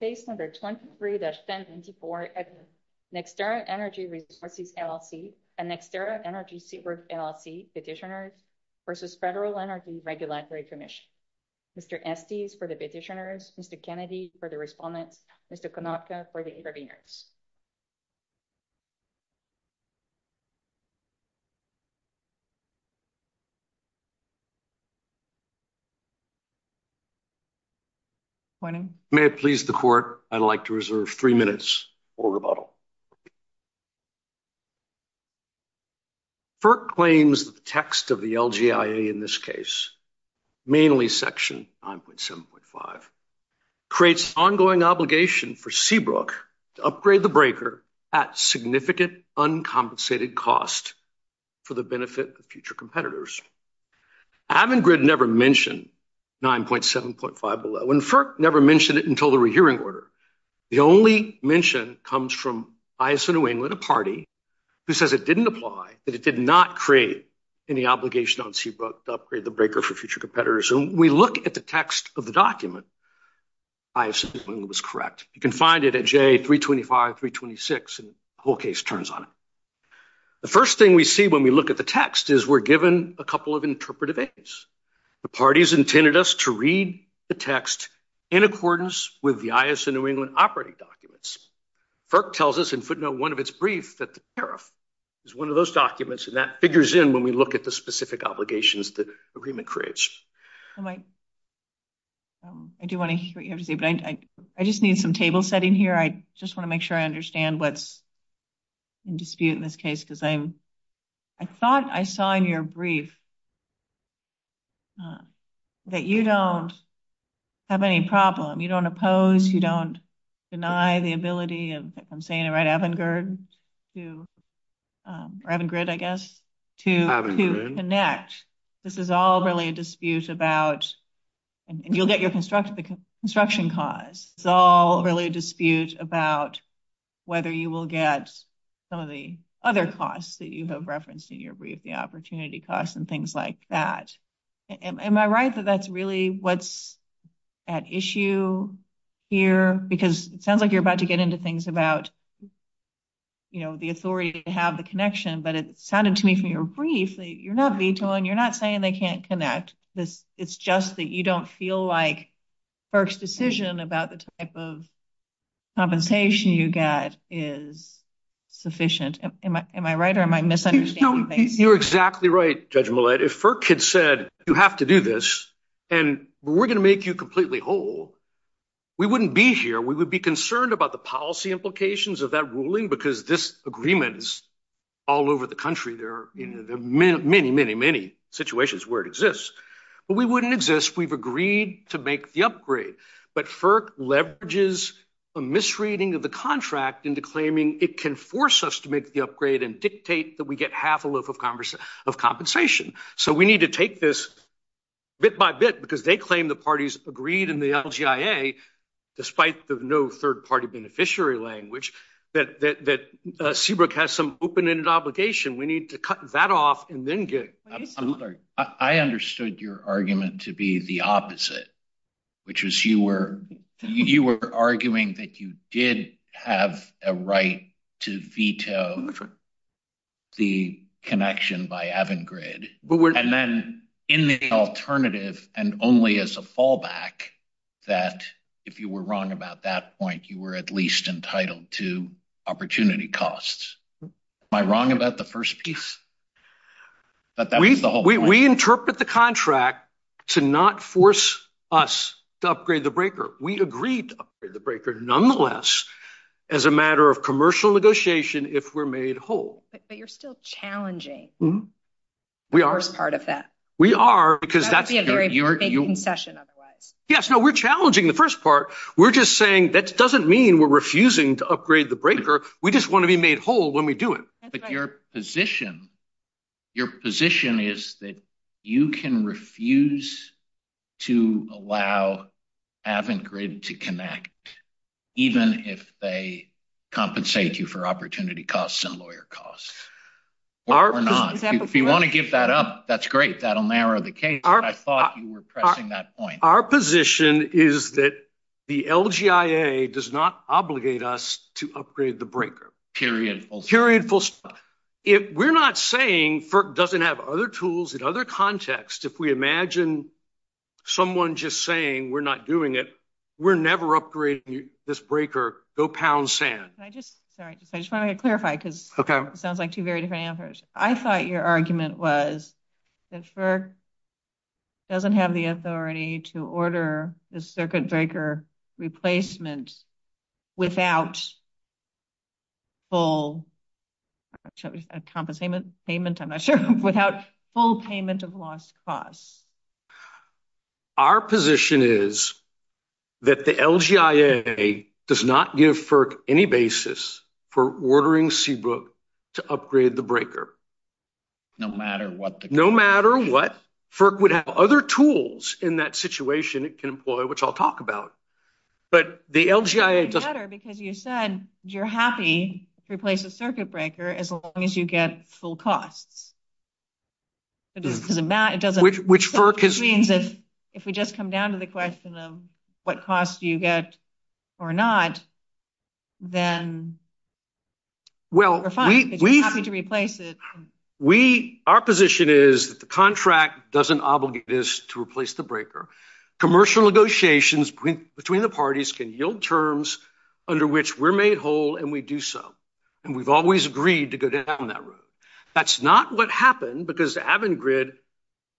Page number 23-74, NextEra Energy Resources, LLC and NextEra Energy Resources, LLC petitioners versus Federal Energy Regulatory Commission. Mr. Estes for the petitioners, Mr. Kennedy for the respondents, Mr. Konopka for the interveners. May it please the Court, I'd like to reserve three minutes for rebuttal. FERC claims that the text of the LGIA in this case, mainly section 5.7.5, creates ongoing obligation for Seabrook to upgrade the breaker at significant uncompensated cost for the benefit of future competitors. Avangrid never mentioned 9.7.5 below and FERC never mentioned it until the rehearing order. The only mention comes from ISO New England, a party, who says it didn't apply, that it did not create any obligation on Seabrook to upgrade the breaker for future competitors. When we look at the text of the document, I assume it was correct. You can find it at J325, 326, and the whole case turns on it. The first thing we see when we look at the text is we're given a couple of interpretive aims. The parties intended us to read the text in accordance with the ISO New England operating documents. FERC tells us in footnote one of its brief that the tariff is one of those documents, and that figures in when we look at the specific obligations that the agreement creates. I do want to hear what you have to say, but I just need some table setting here. I just want to make sure I understand what's in dispute in this case, because I thought I saw in your brief that you don't have any problem. You don't oppose. You don't deny the ability of, if I'm saying it right, Avangard to, or Avangard, I guess, to connect. This is all really a dispute about, and you'll get your construction cost, it's all really a dispute about whether you will get some of the other costs that you have referenced in your brief, the opportunity costs and things like that. Am I right that that's really what's at issue here? Because it sounds like you're about to get into things about the authority to have the connection, but it sounded to me from your brief that you're not vetoing, you're not saying they can't connect. It's just that you don't feel like FERC's decision about the type of compensation you get is sufficient. Am I right, or am I misunderstanding? You're exactly right, Judge Millett. If FERC had said, you have to do this, and we're going to make you completely whole, we wouldn't be here. We would be concerned about the policy implications of that ruling because this agreement is all over the country. There are many, many, many situations where it exists, but we wouldn't exist if we've agreed to make the upgrade. But FERC leverages a misreading of the contract into claiming it can force us to make the So we need to take this bit by bit because they claim the parties agreed in the LGIA, despite the no third party beneficiary language, that Seabrook has some open-ended obligation. We need to cut that off and then get it. I understood your argument to be the opposite, which was you were arguing that you did have a right to veto the connection by Avangrid. And then, in the alternative, and only as a fallback, that if you were wrong about that point, you were at least entitled to opportunity costs. Am I wrong about the first piece? We interpret the contract to not force us to upgrade the breaker. We agreed to upgrade the breaker, nonetheless, as a matter of commercial negotiation if we're made whole. But you're still challenging the first part of that. We are. That would be a very vague confession otherwise. Yes, no, we're challenging the first part. We're just saying that doesn't mean we're refusing to upgrade the breaker. We just want to be made whole when we do it. But your position is that you can refuse to allow Avangrid to connect, even if they compensate you for opportunity costs and lawyer costs, or not. If you want to give that up, that's great. That'll narrow the case. I thought you were pressing that point. Our position is that the LGIA does not obligate us to upgrade the breaker. Period. Period. We're not saying FERC doesn't have other tools in other contexts. If we imagine someone just saying, we're not doing it, we're never upgrading this breaker. Go pound sand. I just want to clarify, because it sounds like two very different answers. I thought your argument was that FERC doesn't have the authority to order the circuit breaker replacement without full, shall we, a compensation payment, I'm not sure, without full payment of lost costs. Our position is that the LGIA does not give FERC any basis for ordering CBOOK to upgrade the breaker. No matter what the cost. No matter what. FERC would have other tools in that situation it can employ, which I'll talk about. But the LGIA... It doesn't matter, because you said you're happy to replace the circuit breaker as long as you get full costs. Which means that if we just come down to the question of what costs you get or not, then we're fine, because you're happy to replace it. Our position is that the contract doesn't obligate us to replace the breaker. Commercial negotiations between the parties can yield terms under which we're made whole and we do so. And we've always agreed to go down that road. That's not what happened, because Avangrid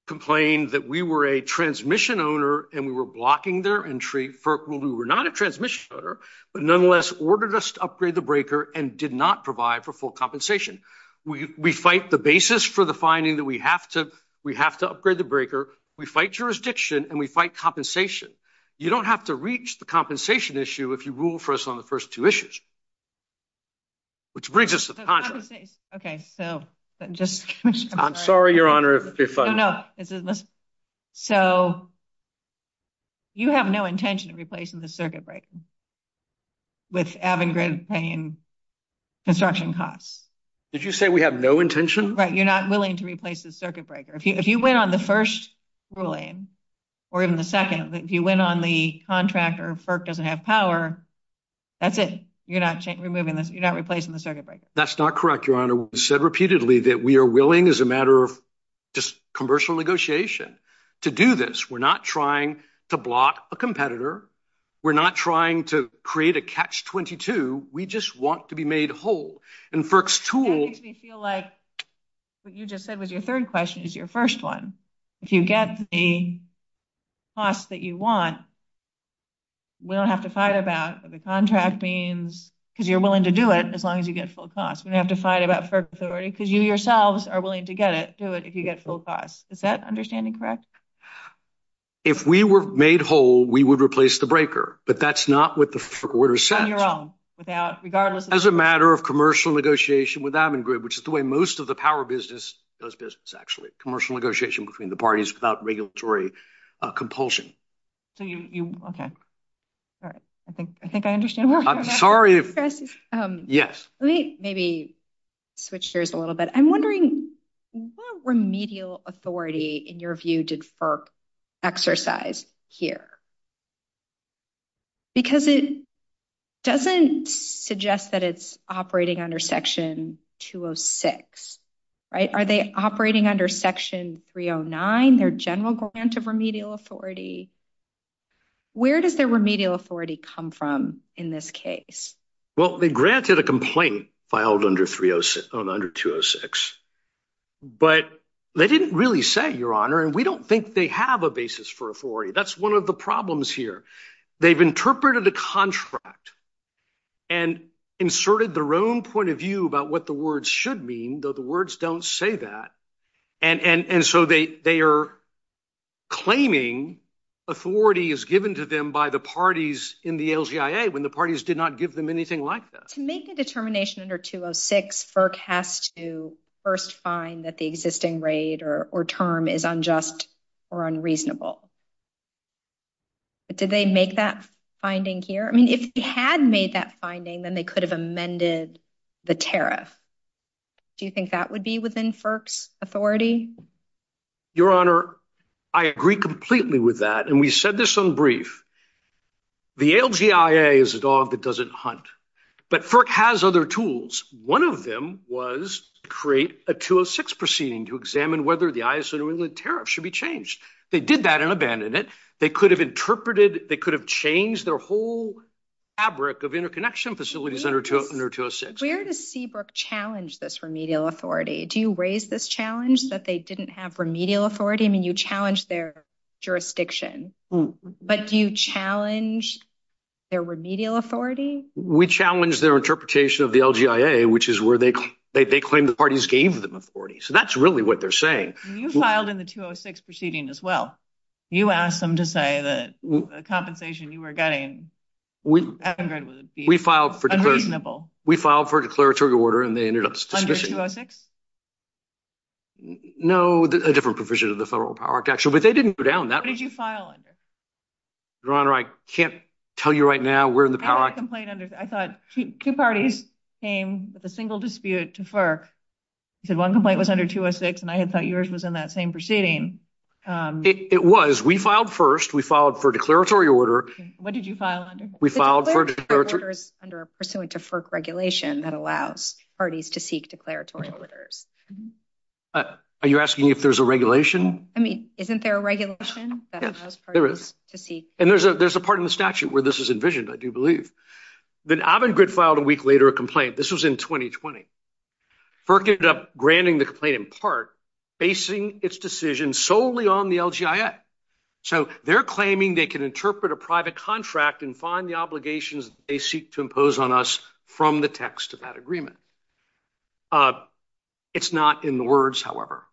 complained that we were a transmission owner and we were blocking their entry. FERC ruled we were not a transmission owner, but nonetheless ordered us to upgrade the breaker and did not provide for full compensation. We fight the basis for the finding that we have to upgrade the breaker. We fight jurisdiction and we fight compensation. You don't have to reach the compensation issue if you rule for us on the first two issues, which brings us to the contract. Okay. So just... I'm sorry, Your Honor, if you're fighting... No, no. So you have no intention of replacing the circuit breaker with Avangrid paying construction costs. Did you say we have no intention? Right. You're not willing to replace the circuit breaker. If you went on the first ruling or even the second, if you went on the contract or FERC doesn't have power, that's it. You're not replacing the circuit breaker. That's not correct, Your Honor. We've said repeatedly that we are willing as a matter of just commercial negotiation to do this. We're not trying to block a competitor. We're not trying to create a catch-22. We just want to be made whole. And FERC's tool... What you just said was your third question is your first one. If you get the cost that you want, we don't have to fight about the contract names because you're willing to do it as long as you get full cost. We don't have to fight about FERC authority because you yourselves are willing to get it, do it, if you get full cost. Is that understanding correct? If we were made whole, we would replace the breaker, but that's not what the order said. On your own, without... Regardless of... Which is the way most of the power business does business, actually. Commercial negotiation between the parties without regulatory compulsion. So you... Okay. All right. I think I understand. I'm sorry if... Yes. Let me maybe switch gears a little bit. I'm wondering what remedial authority, in your view, did FERC exercise here? Because it doesn't suggest that it's operating under Section 206, right? Are they operating under Section 309, their general grant of remedial authority? Where does their remedial authority come from in this case? Well, they granted a complaint filed under 206, but they didn't really say, Your Honor, and we don't think they have a basis for authority. That's one of the problems here. They've interpreted a contract and inserted their own point of view about what the words should mean, though the words don't say that, and so they are claiming authority is given to them by the parties in the LGIA when the parties did not give them anything like that. To make a determination under 206, FERC has to first find that the existing rate or term is unjust or unreasonable. But did they make that finding here? I mean, if they had made that finding, then they could have amended the tariff. Do you think that would be within FERC's authority? Your Honor, I agree completely with that, and we said this on brief. The LGIA is a dog that doesn't hunt, but FERC has other tools. One of them was to create a 206 proceeding to examine whether the ISO tariff should be changed. They did that and abandoned it. They could have interpreted, they could have changed their whole fabric of interconnection facilities under 206. Where does Seabrook challenge this remedial authority? Do you raise this challenge that they didn't have remedial authority? I mean, you challenged their jurisdiction, but you challenged their remedial authority? We challenged their interpretation of the LGIA, which is where they claim the parties gave them authority. So, that's really what they're saying. You filed in the 206 proceeding as well. You asked them to say that the compensation you were getting was unreasonable. We filed for a declaratory order, and they ended up suspicion. Under 206? No, a different provision of the federal power of action, but they didn't go down. What did you file under? Your Honor, I can't tell you right now where in the power of action. I thought two parties came with a single dispute to FERC, because one complaint was under 206, and I had thought yours was in that same proceeding. It was. We filed first. We filed for a declaratory order. What did you file under? We filed for a declaratory order. The declaratory order is under a pursuant to FERC regulation that allows parties to seek declaratory orders. Are you asking me if there's a regulation? I mean, isn't there a regulation that allows parties to seek declaratory orders? There is. I see. And there's a part in the statute where this is envisioned, I do believe. Then Avangrid filed a week later a complaint. This was in 2020. FERC ended up granting the complaint in part, basing its decision solely on the LGIA. So they're claiming they can interpret a private contract and find the obligations they seek to impose on us from the text of that agreement. It's not in the words, however.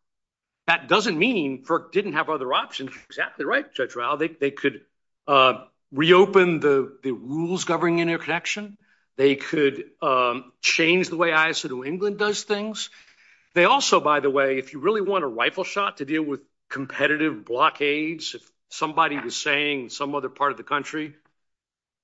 That doesn't mean FERC didn't have other options. You're exactly right, Judge Rao. They could reopen the rules governing interconnection. They could change the way ISO2 England does things. They also, by the way, if you really want a rifle shot to deal with competitive blockades, somebody was saying in some other part of the country,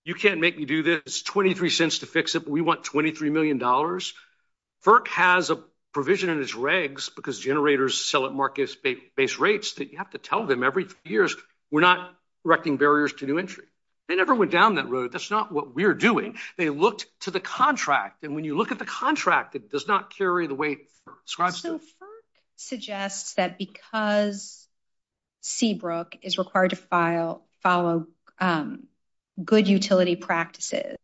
you can't make me do this. It's 23 cents to fix it, but we want $23 million. FERC has a provision in its regs, because generators sell at market-based rates, that you have to tell them every few years, we're not erecting barriers to new entry. They never went down that road. That's not what we're doing. They looked to the contract, and when you look at the contract, it does not carry the way it's described. So FERC suggests that because Seabrook is required to follow good utility practices,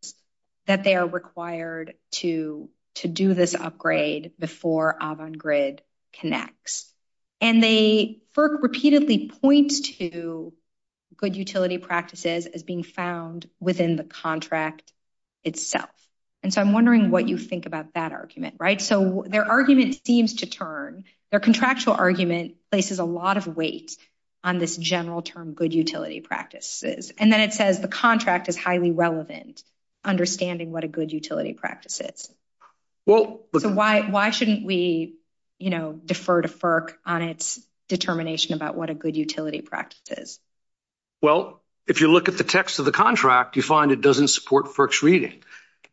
that they are required to do this upgrade before Avangrid connects. And they, FERC repeatedly points to good utility practices as being found within the contract itself. And so I'm wondering what you think about that argument, right? So their argument seems to turn, their contractual argument places a lot of weight on this general term good utility practices. And then it says the contract is highly relevant, understanding what a good utility practice is. So why shouldn't we, you know, defer to FERC on its determination about what a good utility practice is? Well, if you look at the text of the contract, you find it doesn't support FERC's reading.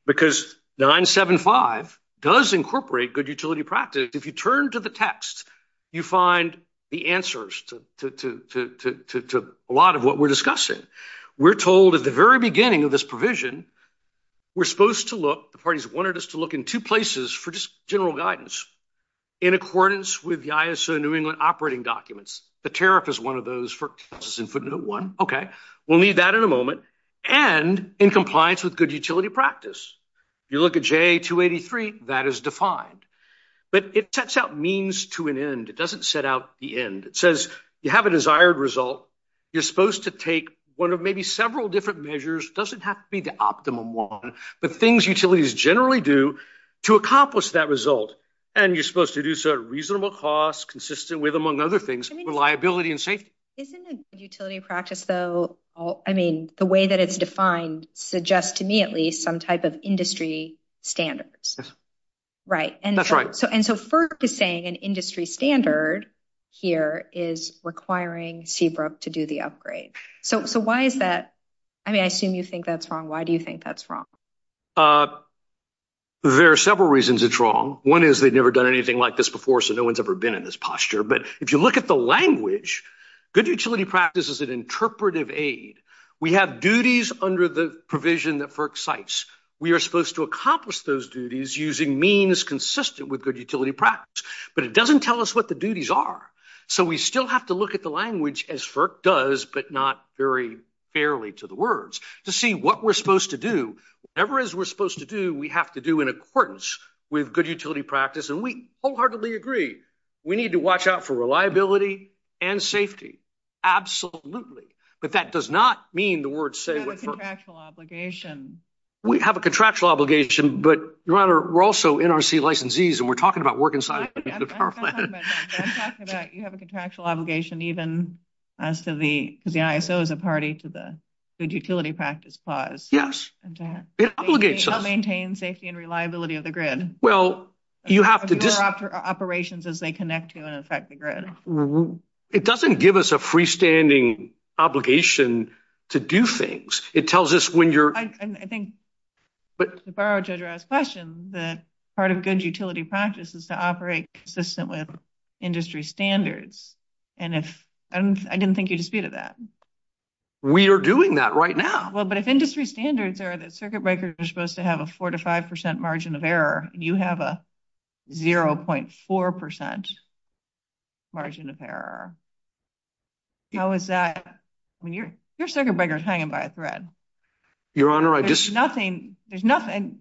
Because 975 does incorporate good utility practice. If you turn to the text, you find the answers to a lot of what we're discussing. We're told at the very beginning of this provision, we're supposed to look, the parties wanted us to look in two places for just general guidance, in accordance with the ISO New England operating documents. The tariff is one of those, FERC passes input note one, okay, we'll need that in a moment. And in compliance with good utility practice. You look at J283, that is defined. But it sets out means to an end, it doesn't set out the end. It says you have a desired result, you're supposed to take one of maybe several different measures, doesn't have to be the optimum one, but things utilities generally do to accomplish that result. And you're supposed to do so at reasonable cost, consistent with, among other things, reliability and safety. Isn't a utility practice, though, I mean, the way that it's defined, suggests to me at least some type of industry standards. Yes. Right. That's right. And so FERC is saying an industry standard here is requiring Seabrook to do the upgrade. So why is that? I mean, I assume you think that's wrong. Why do you think that's wrong? There are several reasons it's wrong. One is they've never done anything like this before, so no one's ever been in this posture. But if you look at the language, good utility practice is an interpretive aid. We have duties under the provision that FERC cites. We are supposed to accomplish those duties using means consistent with good utility practice. But it doesn't tell us what the duties are. So we still have to look at the language, as FERC does, but not very fairly to the words, to see what we're supposed to do. Whatever it is we're supposed to do, we have to do in accordance with good utility practice. And we wholeheartedly agree. We need to watch out for reliability and safety. Absolutely. But that does not mean the words say what FERC... We have a contractual obligation. We have a contractual obligation, but Your Honor, we're also NRC licensees, and we're talking about working side of things with our plan. I'm talking about you have a contractual obligation, even as to the, because the ISO is a party to the good utility practice clause. Yes. It obligates us. To maintain safety and reliability of the grid. Well, you have to... For operations as they connect to and affect the grid. It doesn't give us a freestanding obligation to do things. It tells us when you're... I think, if I were to address questions, that part of good utility practice is to operate consistent with industry standards. And I didn't think you disputed that. We are doing that right now. Well, but if industry standards are that circuit breakers are supposed to have a 4% to 5% margin of error, and you have a 0.4% margin of error, how is that when your circuit breaker is hanging by a thread? Your Honor, I just... There's nothing...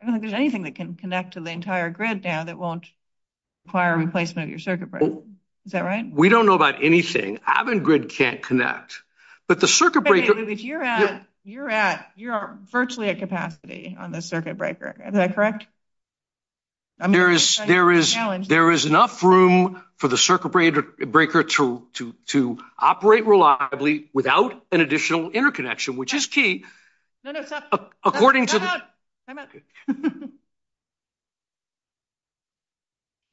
I don't think there's anything that can connect to the entire grid there that won't require replacement of your circuit breaker. Is that right? We don't know about anything. I haven't... Grid can't connect. But the circuit breaker... You're at... You're at... There's not enough energy on the circuit breaker. Is that correct? I'm... There is... There is... There is enough room for the circuit breaker to operate reliably without an additional interconnection, which is key. No, no. Stop. According to... Time out. Time out. Okay.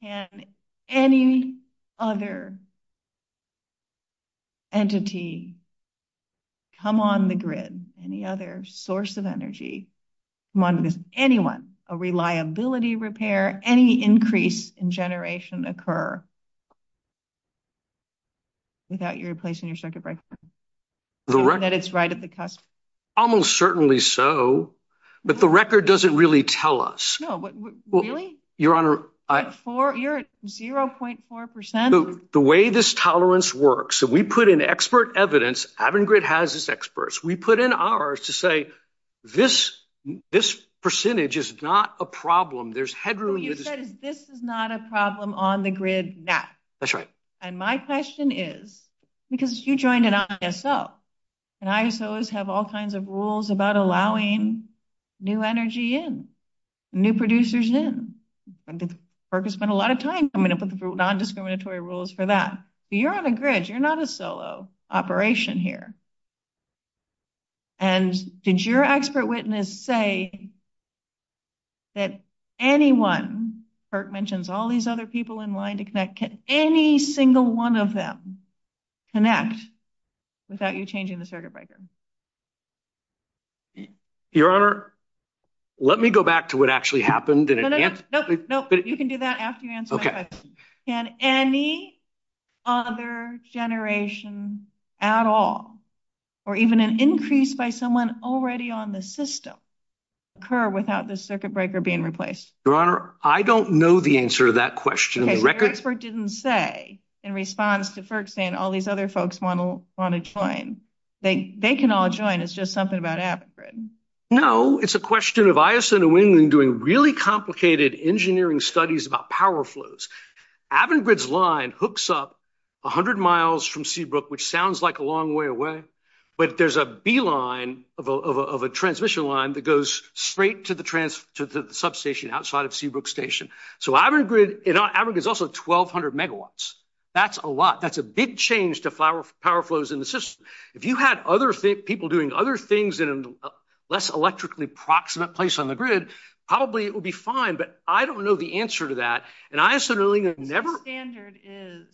Can any other entity come on the grid, any other source of energy, come on with anyone, a reliability repair, any increase in generation occur without you replacing your circuit breaker? The record... That it's right at the customer? Almost certainly so, but the record doesn't really tell us. No, but... Really? Your Honor, I... Four... You're at 0.4%. So, the way this tolerance works, so we put in expert evidence, Avon Grid has its experts. We put in ours to say, this percentage is not a problem. There's headroom... You said, this is not a problem on the grid now. That's right. And my question is, because you joined an ISO, and ISOs have all kinds of rules about allowing new energy in, new producers in, I'm gonna spend a lot of time coming up with non-discriminatory rules for that, so you're on a grid, you're not a solo operation here. And did your expert witness say that anyone, Kirk mentions all these other people in line to connect, can any single one of them connect without you changing the circuit breaker? Your Honor, let me go back to what actually happened and... No, no, no. You can do that after you answer my question. Okay. Can any other generation at all, or even an increase by someone already on the system, occur without the circuit breaker being replaced? Your Honor, I don't know the answer to that question on the record. Okay, so your expert didn't say, in response to Kirk saying, all these other folks wanna join. They can all join, it's just something about Avangrid. No, it's a question of ISO and WING doing really complicated engineering studies about power flows. Avangrid's line hooks up 100 miles from Seabrook, which sounds like a long way away, but there's a B-line of a transmission line that goes straight to the substation outside of Seabrook Station. So Avangrid, Avangrid's also 1,200 megawatts. That's a lot. That's a huge change to power flows in the system. If you had other people doing other things in a less electrically proximate place on the grid, probably it would be fine, but I don't know the answer to that, and ISO and WING have never... The standard is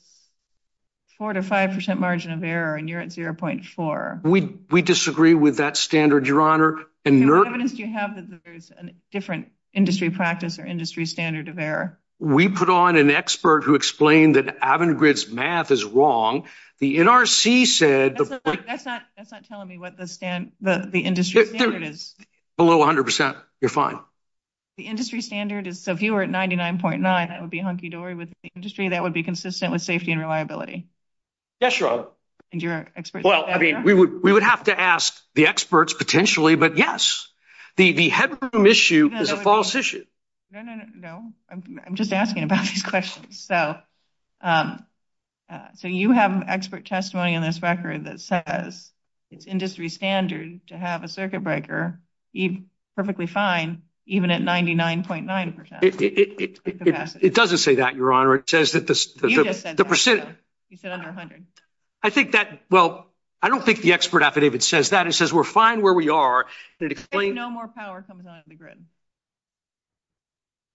4% to 5% margin of error, and you're at 0.4. We disagree with that standard, Your Honor, and your... What evidence do you have that there's a very different industry practice or industry standard of error? We put on an expert who explained that Avangrid's math is wrong. The NRC said... That's not telling me what the industry standard is. Below 100%. You're fine. The industry standard is... So if you were at 99.9, that would be hunky-dory with the industry, that would be consistent with safety and reliability. Yes, Your Honor. And your expert... Well, I mean, we would have to ask the experts potentially, but yes, the headroom issue is a false issue. No, no, no. I'm just asking about these questions. So you have expert testimony in this record that says it's industry standard to have a circuit breaker, perfectly fine, even at 99.9%. It doesn't say that, Your Honor. It says that the... You just said that. The percentage... You said under 100. I think that... Well, I don't think the expert affidavit says that. It says we're fine where we are. It explains... If no more power comes out of the grid.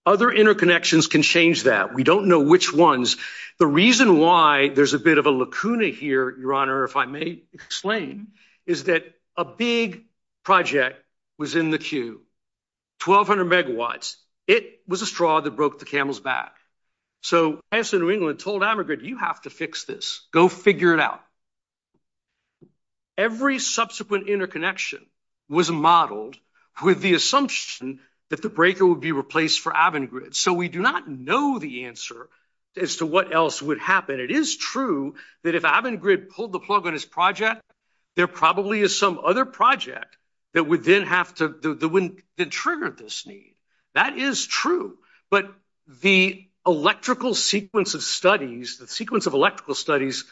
Other interconnections can change that. We don't know which ones. The reason why there's a bit of a lacuna here, Your Honor, if I may explain, is that a big project was in the queue, 1,200 megawatts. It was a straw that broke the camel's back. So Chancellor of England told America, you have to fix this, go figure it out. Every subsequent interconnection was modeled with the assumption that the breaker would be replaced for Avangrid. So we do not know the answer as to what else would happen. It is true that if Avangrid pulled the plug on his project, there probably is some other project that would then have to... That would then trigger this need. That is true. But the electrical sequence of studies, the sequence of electrical studies,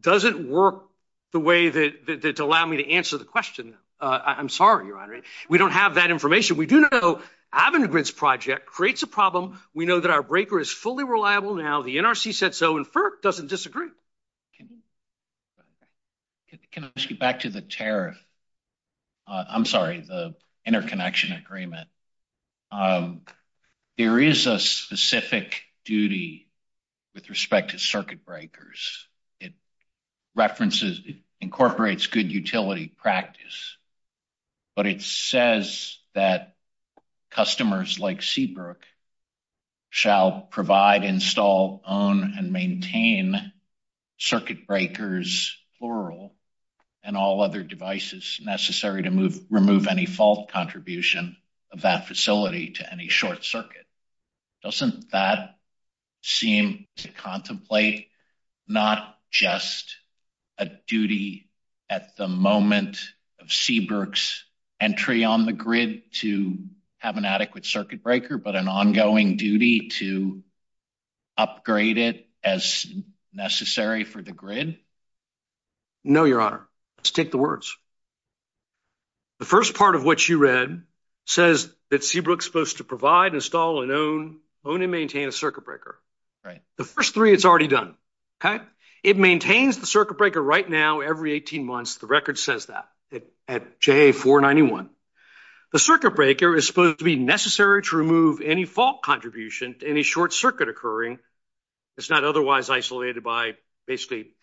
doesn't work the way that... To allow me to answer the question. I'm sorry, Your Honor. We don't have that information. We do know Avangrid's project creates a problem. We know that our breaker is fully reliable now. The NRC said so, and FERC doesn't disagree. Can I just get back to the tariff? I'm sorry, the interconnection agreement. There is a specific duty with respect to circuit breakers. It references, it incorporates good utility practice, but it says that customers like circuit breakers, floral, and all other devices necessary to remove any fault contribution of that facility to any short circuit. Doesn't that seem to contemplate not just a duty at the moment of Seabrook's entry on the grid to have an adequate circuit breaker, but an ongoing duty to upgrade it as necessary for the grid? No, Your Honor. Let's take the words. The first part of what you read says that Seabrook's supposed to provide, install, and own and maintain a circuit breaker. The first three, it's already done. It maintains the circuit breaker right now every 18 months. The record says that at JA-491. The circuit breaker is supposed to be necessary to remove any fault contribution to any short circuit occurring. It's not otherwise isolated by basically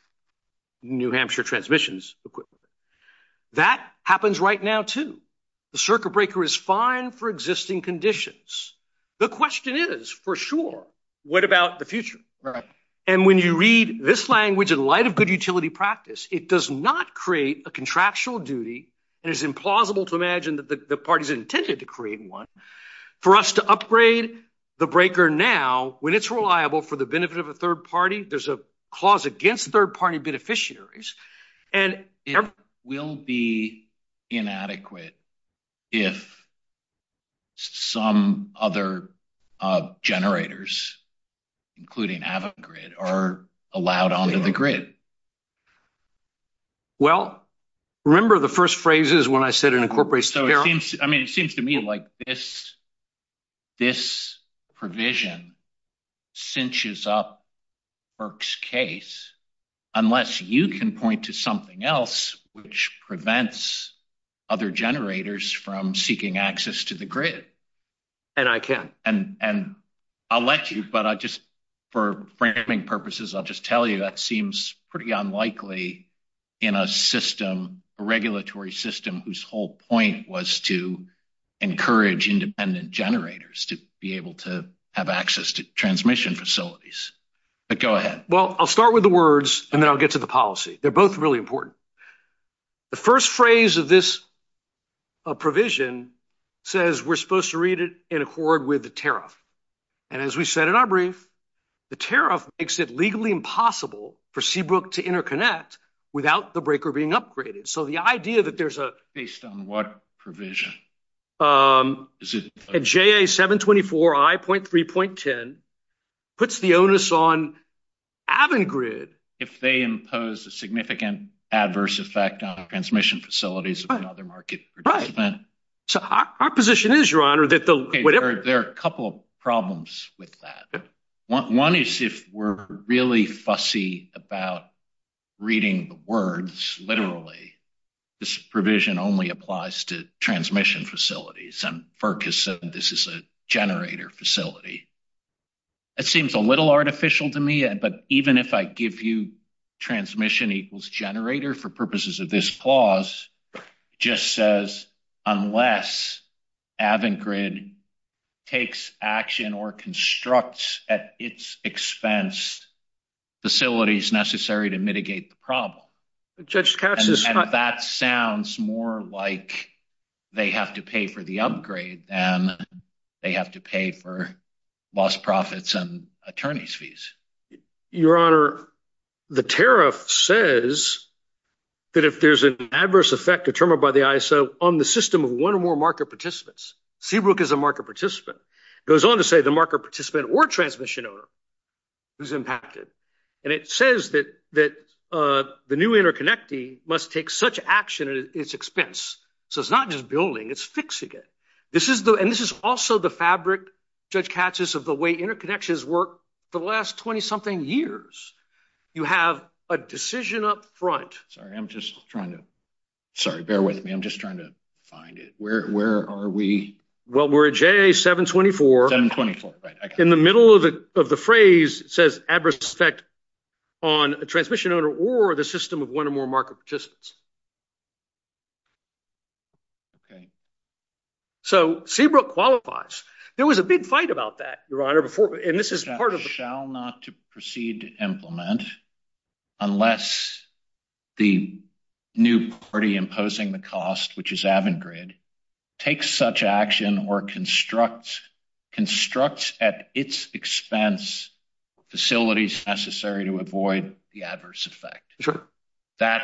New Hampshire transmissions equipment. That happens right now, too. The circuit breaker is fine for existing conditions. The question is, for sure, what about the future? And when you read this language in light of good utility practice, it does not create a contractual duty, and it's implausible to imagine that the parties intended to create For us to upgrade the breaker now, when it's reliable for the benefit of a third party, there's a clause against third-party beneficiaries. And it will be inadequate if some other generators, including Havoc Grid, are allowed onto the grid. Well, remember the first phrases when I said an incorporation barrier? So it seems to me like this provision cinches up Burke's case, unless you can point to something else which prevents other generators from seeking access to the grid. And I can. And I'll let you, but just for framing purposes, I'll just tell you that seems pretty unlikely in a system, a regulatory system, whose whole point was to encourage independent generators to be able to have access to transmission facilities. But go ahead. Well, I'll start with the words, and then I'll get to the policy. They're both really important. The first phrase of this provision says we're supposed to read it in accord with the tariff. And as we said in our brief, the tariff makes it legally impossible for Seabrook to interconnect without the breaker being upgraded. So the idea that there's a... Based on what provision? A JA724I.3.10 puts the onus on Avangrid... If they impose a significant adverse effect on transmission facilities and other market participants. Right. So our position is, Your Honor, that the... Okay. There are a couple of problems with that. One is if we're really fussy about reading the words, literally, this provision only applies to transmission facilities, and FERC has said this is a generator facility. It seems a little artificial to me, but even if I give you transmission equals generator for purposes of this clause, it just says unless Avangrid takes action or constructs at its expense facilities necessary to mitigate the problem, and that sounds more like they have to pay for the upgrade than they have to pay for lost profits and attorney's fees. Your Honor, the tariff says that if there's an adverse effect determined by the ISO on the system of one or more market participants, Seabrook is a market participant. It goes on to say the market participant or transmission owner is impacted. And it says that the new interconnectee must take such action at its expense. So it's not just building, it's fixing it. This is the... Judge Katsas, of the way interconnections work, the last 20-something years, you have a decision up front. Sorry, I'm just trying to... Sorry, bear with me. I'm just trying to find it. Where are we? Well, we're at JA-724. 724, right. I got it. In the middle of the phrase, it says adverse effect on a transmission owner or the system of one or more market participants. So Seabrook qualifies. There was a big fight about that, Your Honor, and this is part of... ...shall not proceed to implement unless the new party imposing the cost, which is Avangrid, takes such action or constructs at its expense facilities necessary to avoid the adverse effect. Sure. That,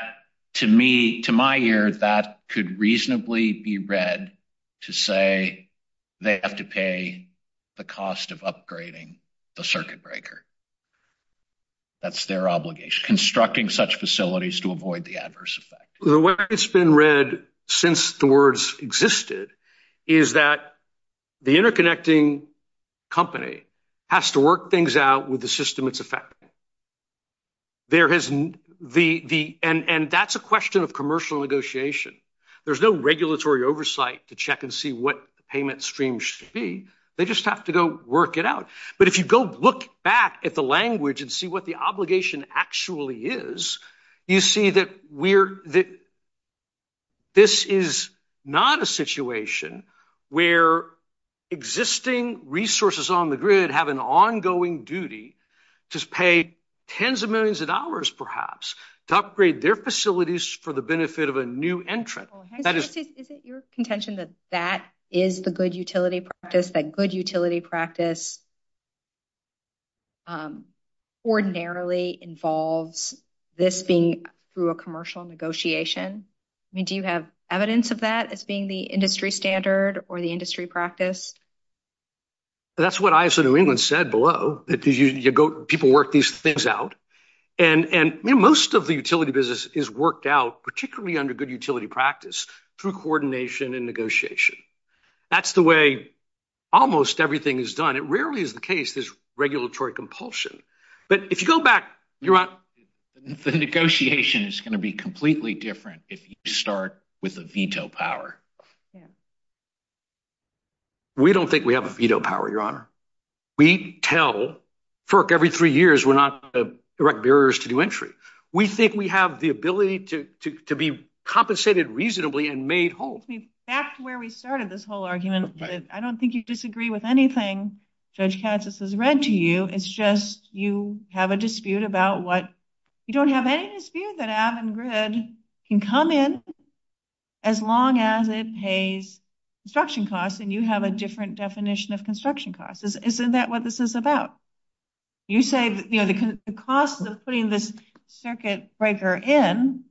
to me, to my ear, that could reasonably be read to say they have to pay the cost of upgrading the circuit breaker. That's their obligation, constructing such facilities to avoid the adverse effect. The way it's been read since the words existed is that the interconnecting company has to work things out with the system it's affecting. And that's a question of commercial negotiation. There's no regulatory oversight to check and see what the payment stream should be. They just have to go work it out. But if you go look back at the language and see what the obligation actually is, you see that this is not a situation where existing resources on the grid have an ongoing duty to pay tens of millions of dollars, perhaps, to upgrade their facilities for the benefit of a new entrant. That is... Is it your contention that that is the good utility practice, that good utility practice ordinarily involves this being through a commercial negotiation? I mean, do you have evidence of that as being the industry standard or the industry practice? That's what ISO New England said below. People work these things out. And most of the utility business is worked out, particularly under good utility practice, through coordination and negotiation. That's the way almost everything is done. It rarely is the case, this regulatory compulsion. But if you go back, you're not... The negotiation is going to be completely different if you start with a veto power. We don't think we have a veto power, Your Honor. We tell FERC every three years we're not going to erect barriers to new entry. We think we have the ability to be compensated reasonably and made whole. See, that's where we started this whole argument. I don't think you disagree with anything Judge Katz has read to you. It's just you have a dispute about what... You don't have any dispute that Avon Grid can come in as long as there's a veto power. Avon Grid pays construction costs and you have a different definition of construction costs. Isn't that what this is about? You said the cost of putting this circuit breaker in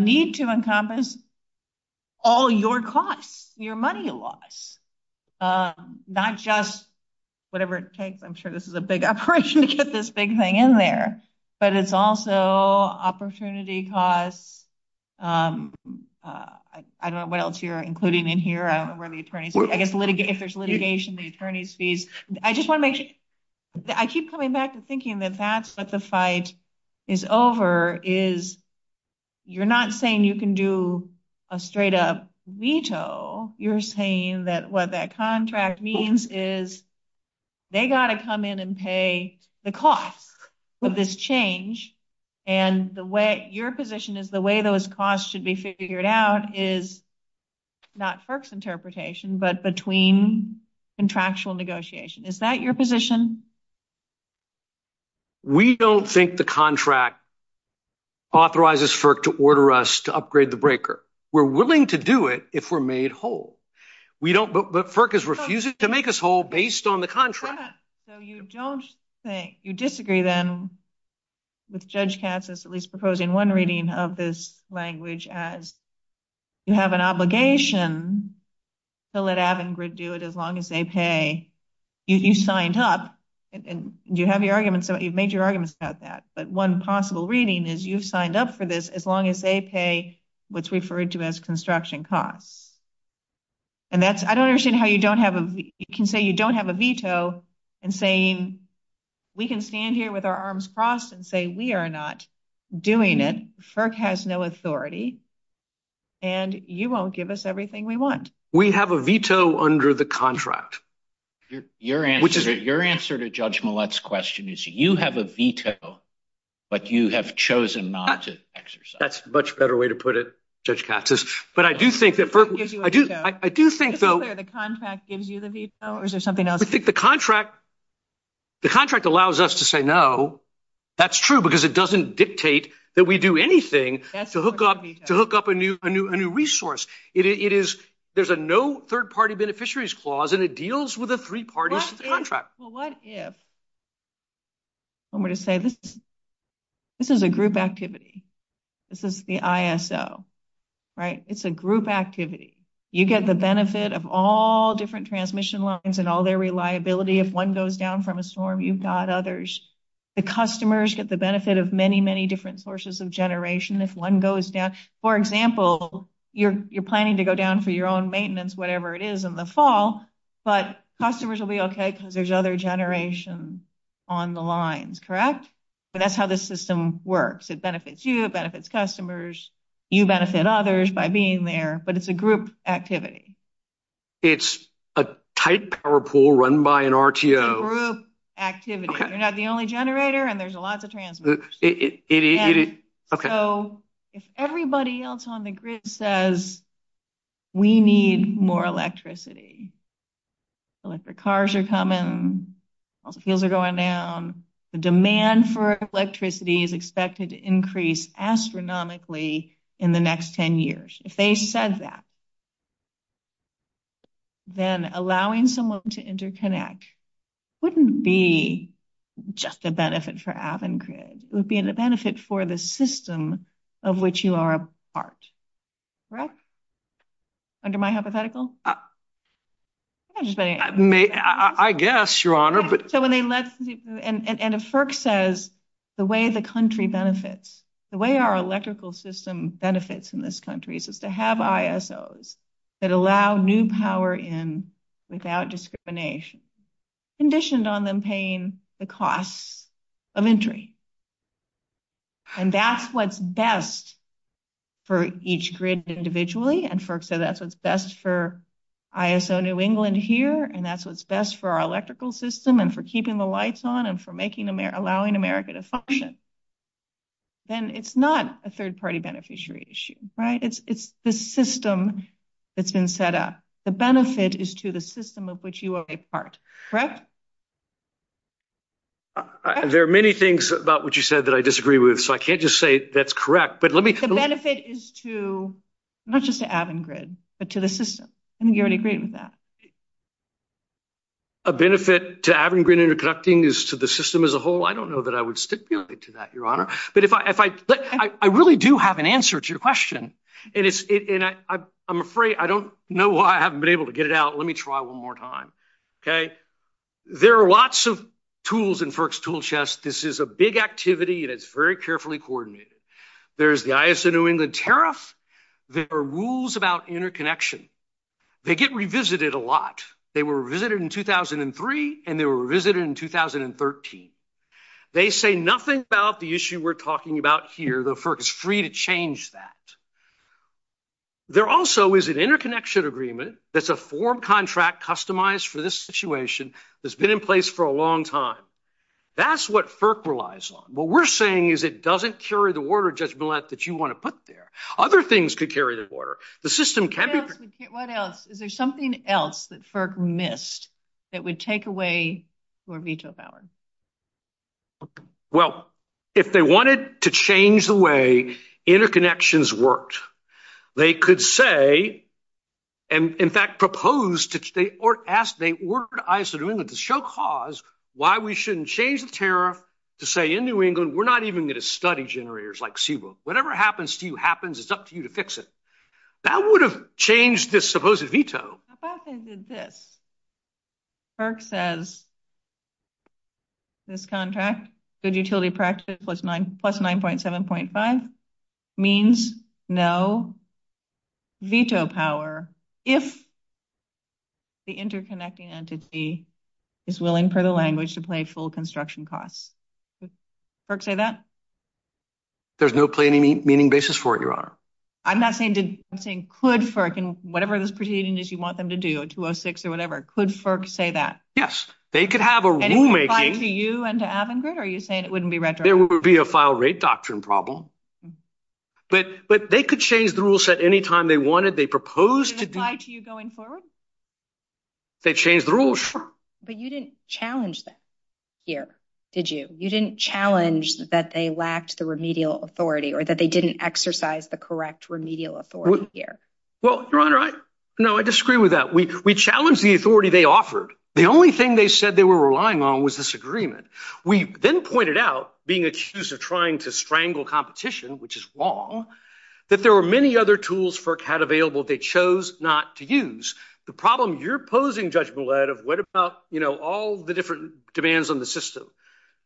need to encompass all your costs, your money loss. Not just whatever it takes. I'm sure this is a big operation to get this big thing in there. But it's also opportunity costs. I don't know what else you're including in here. I don't know where the attorney's... If there's litigation, the attorney's fees. I just want to make sure... I keep coming back to thinking that that's what the fight is over is... You're not saying you can do a straight up veto. You're saying that what that contract means is they got to come in and pay the cost with this change. Your position is the way those costs should be figured out is not FERC's interpretation, but between contractual negotiation. Is that your position? We don't think the contract authorizes FERC to order us to upgrade the breaker. We're willing to do it if we're made whole. But FERC is refusing to make us whole based on the contract. So you disagree then with Judge Katz's at least proposing one reading of this language as you have an obligation to let Avangrid do it as long as they pay. You've signed up. You have your arguments. You've made your arguments about that. But one possible reading is you've signed up for this as long as they pay what's referred to as construction costs. I don't understand how you can say you don't have a veto and saying we can stand here with our arms crossed and say we are not doing it. FERC has no authority and you won't give us everything we want. We have a veto under the contract. Your answer to Judge Millett's question is you have a veto, but you have chosen not to exercise it. That's a much better way to put it, Judge Katz's. I do think the contract allows us to say no. That's true because it doesn't dictate that we do anything to hook up a new resource. There's a no third-party beneficiaries clause and it deals with a three-party contract. This is a group activity. This is the ISO. It's a group activity. You get the benefit of all different transmission lines and all their reliability. If one goes down from a storm, you've got others. The customers get the benefit of many, many different sources of generation if one goes down. For example, you're planning to go down for your own maintenance, whatever it is, in the fall. Customers will be okay because there's other generation on the lines, correct? That's how the system works. It benefits you. It benefits customers. You benefit others by being there, but it's a group activity. It's a tight power pool run by an RTO. It's a group activity. You're not the only generator and there's a lot of transmitters. If everybody else on the grid says, we need more electricity, electric cars are coming, all the fields are going down, the demand for electricity is expected to increase astronomically in the next 10 years. If they said that, then allowing someone to interconnect wouldn't be just a benefit for Avangrid. It would be a benefit for the system of which you are a part, correct? Under my hypothetical? I guess, Your Honor. If FERC says the way the country benefits, the way our electrical system benefits in this country is to have ISOs that allow new power in without discrimination, conditioned on them paying the cost of entry, and that's what's best for each grid individually, and so that's what's best for ISO New England here, and that's what's best for our electrical system and for keeping the lights on and for allowing America to function, then it's not a third-party beneficiary issue, right? It's the system that's been set up. The benefit is to the system of which you are a part, correct? There are many things about what you said that I disagree with, so I can't just say that's correct, but let me... The benefit is to, not just to Avangrid, but to the system. I think you already agreed with that. A benefit to Avangrid interconnecting is to the system as a whole? I don't know that I would stipulate to that, Your Honor, but if I... I really do have an answer to your question, and I'm afraid I don't know why I haven't been able to get it out. Let me try one more time, okay? There are lots of tools in FERC's tool chest. This is a big activity, and it's very carefully coordinated. There's the ISO New England tariff. There are rules about interconnection. They get revisited a lot. They were revisited in 2003, and they were revisited in 2013. They say nothing about the issue we're talking about here. The FERC is free to change that. There also is an interconnection agreement that's a form contract customized for this situation that's been in place for a long time. That's what FERC relies on. What we're saying is it doesn't carry the order of judgment that you want to put there. Other things could carry the order. The system can be... What else? Is there something else that FERC missed that would take away your veto power? Well, if they wanted to change the way interconnections worked, they could say, and, in fact, propose, or ask the ISO New England to show cause why we shouldn't change the tariff to say, in New England, we're not even going to study generators like Seawolf. Whatever happens to you happens. It's up to you to fix it. That would have changed this supposed veto. FERC says this contract, good utility practices plus 9.7.5, means no veto power. If the interconnecting entity is willing for the language to pay full construction costs. Would FERC say that? There's no planning meaning basis for it, Your Honor. I'm not saying... I'm saying could FERC, and whatever those proceedings you want them to do, 206 or whatever, could FERC say that? Yes. They could have a rulemaking. And it would apply to you and to Avangard, or are you saying it wouldn't be retroactive? There would be a file rate doctrine problem. But they could change the rule set any time they wanted. They proposed to do it. Would it apply to you going forward? They'd change the rules, sure. But you didn't challenge them here, did you? You didn't challenge that they lacked the remedial authority, or that they didn't exercise the correct remedial authority here. Well, Your Honor, I disagree with that. We challenged the authority they offered. The only thing they said they were relying on was this agreement. We then pointed out, being accused of trying to strangle competition, which is wrong, that there were many other tools FERC had available they chose not to use. The problem you're posing, Judge Millett, of what about all the different demands on the system,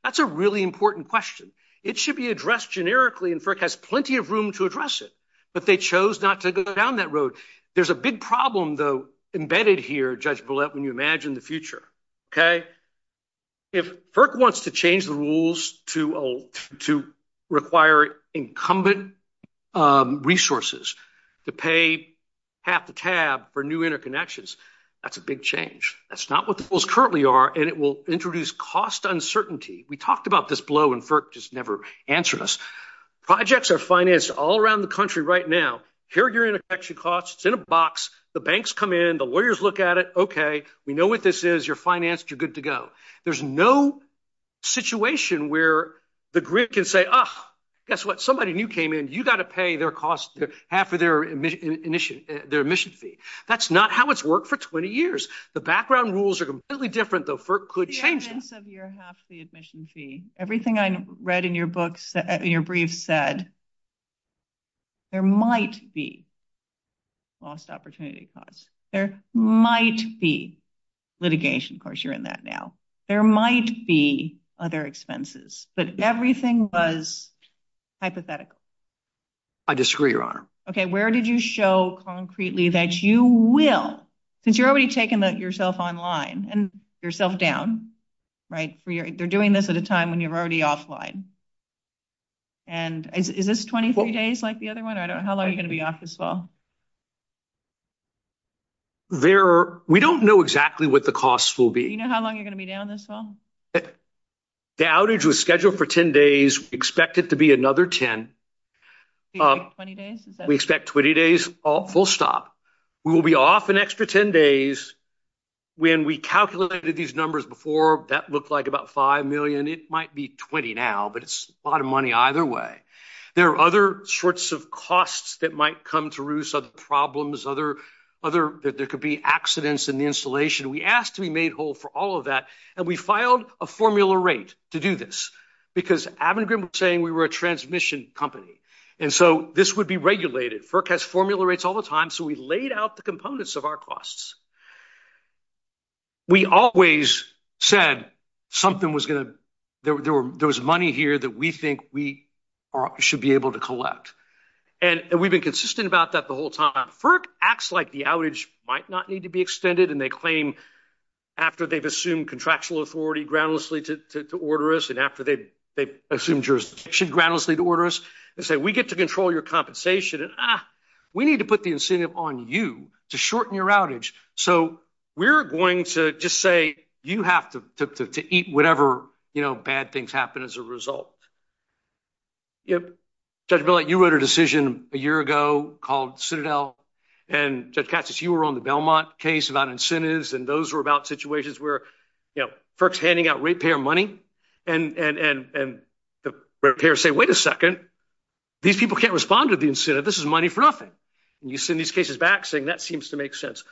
that's a really important question. It should be addressed generically, and FERC has plenty of room to address it. But they chose not to go down that road. There's a big problem, though, embedded here, Judge Millett, when you imagine the future. If FERC wants to change the rules to require incumbent resources to pay half the cab for new interconnections, that's a big change. That's not what the rules currently are, and it will introduce cost uncertainty. We talked about this blow, and FERC just never answered us. Projects are financed all around the country right now. Here are your interconnection costs. It's in a box. The banks come in. The lawyers look at it. Okay, we know what this is. You're financed. You're good to go. There's no situation where the grid can say, oh, guess what? Somebody new came in. You've got to pay their costs, half of their admission fee. That's not how it's worked for 20 years. The background rules are completely different, though. FERC could change it. The evidence of your half the admission fee, everything I read in your brief said there might be lost opportunity costs. There might be litigation. Of course, you're in that now. There might be other expenses. But everything was hypothetical. I disagree, Your Honor. Okay, where did you show concretely that you will, since you're already taking yourself online and yourself down, right? They're doing this at a time when you're already offline. Is this 23 days like the other one? How long are you going to be off this fall? We don't know exactly what the costs will be. Do you know how long you're going to be down this fall? The outage was scheduled for 10 days. We expect it to be another 10. 20 days? We expect 20 days full stop. We will be off an extra 10 days. When we calculated these numbers before, that looked like about $5 million. It might be 20 now, but it's a lot of money either way. There are other sorts of costs that might come through, some problems, there could be accidents in the installation. We asked to be made whole for all of that, and we filed a formula rate to do this. Because Abengrim was saying we were a transmission company. And so this would be regulated. FERC has formula rates all the time, so we laid out the components of our costs. We always said something was going to, there was money here that we think we should be able to collect. And we've been consistent about that the whole time. FERC acts like the outage might not need to be extended, and they claim after they've assumed contractual authority groundlessly to order us, and after they've assumed jurisdiction groundlessly to order us, and say we get to control your compensation, and we need to put the incentive on you to shorten your outage. So we're going to just say you have to eat whatever bad things happen as a result. Judge Billett, you wrote a decision a year ago called Citadel, and Judge Katsas, you were on the Belmont case about incentives, and those were about situations where FERC's handing out rate payer money, and the rate payers say wait a second, these people can't respond to the incentive, this is money for nothing. And you send these cases back saying that seems to make sense.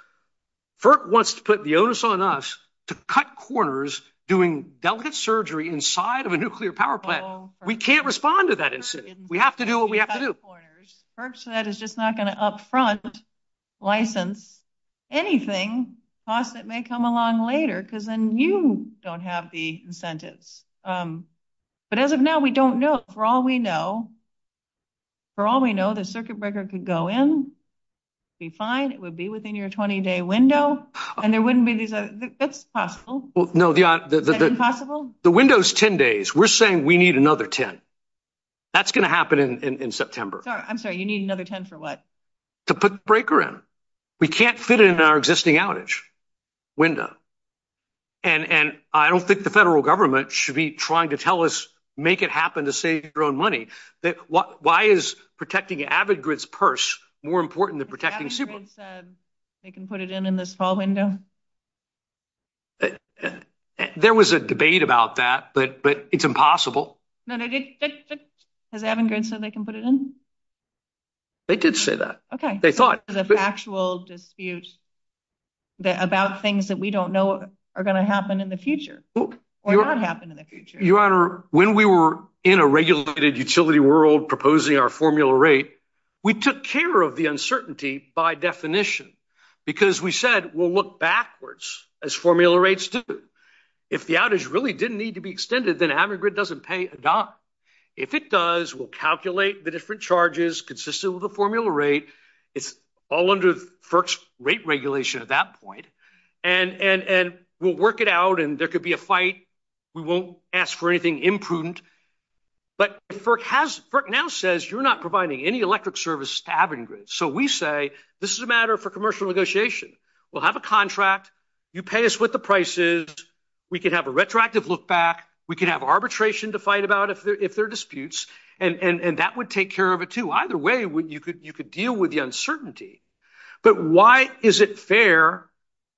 FERC wants to put the onus on us to cut corners doing delicate surgery inside of a nuclear power plant. We can't respond to that incentive. We have to do what we have to do. FERC said it's just not going to up front license anything, costs that may come along later, because then you don't have the incentives. But as of now, we don't know. For all we know, for all we know, the circuit breaker could go in, be fine, it would be within your 20-day window, and there wouldn't be, that's possible. No, the window's 10 days. We're saying we need another 10. That's going to happen in September. I'm sorry, you need another 10 for what? To put the breaker in. We can't fit it in our existing outage window. And I don't think the federal government should be trying to tell us, make it happen to save your own money. Why is protecting Avidgrid's purse more important than protecting... Avidgrid said they can put it in in this fall window. There was a debate about that, but it's impossible. No, they didn't. Has Avidgrid said they can put it in? They did say that. The factual dispute about things that we don't know are going to happen in the future. Or not happen in the future. Your Honor, when we were in a regulated utility world proposing our formula rate, we took care of the uncertainty by definition. Because we said, we'll look backwards as formula rates do. If the outage really didn't need to be extended, then Avidgrid doesn't pay a dime. If it does, we'll calculate the different charges consistent with the formula rate. It's all under FERC's rate regulation at that point. And we'll work it out. And there could be a fight. We won't ask for anything imprudent. But FERC now says you're not providing any electric service to Avidgrid. So we say, this is a matter for commercial negotiation. We'll have a contract. You pay us what the price is. We can have a retroactive look back. We can have arbitration to fight about if there are disputes. And that would take care of it too. Either way, you could deal with the uncertainty. But why is it fair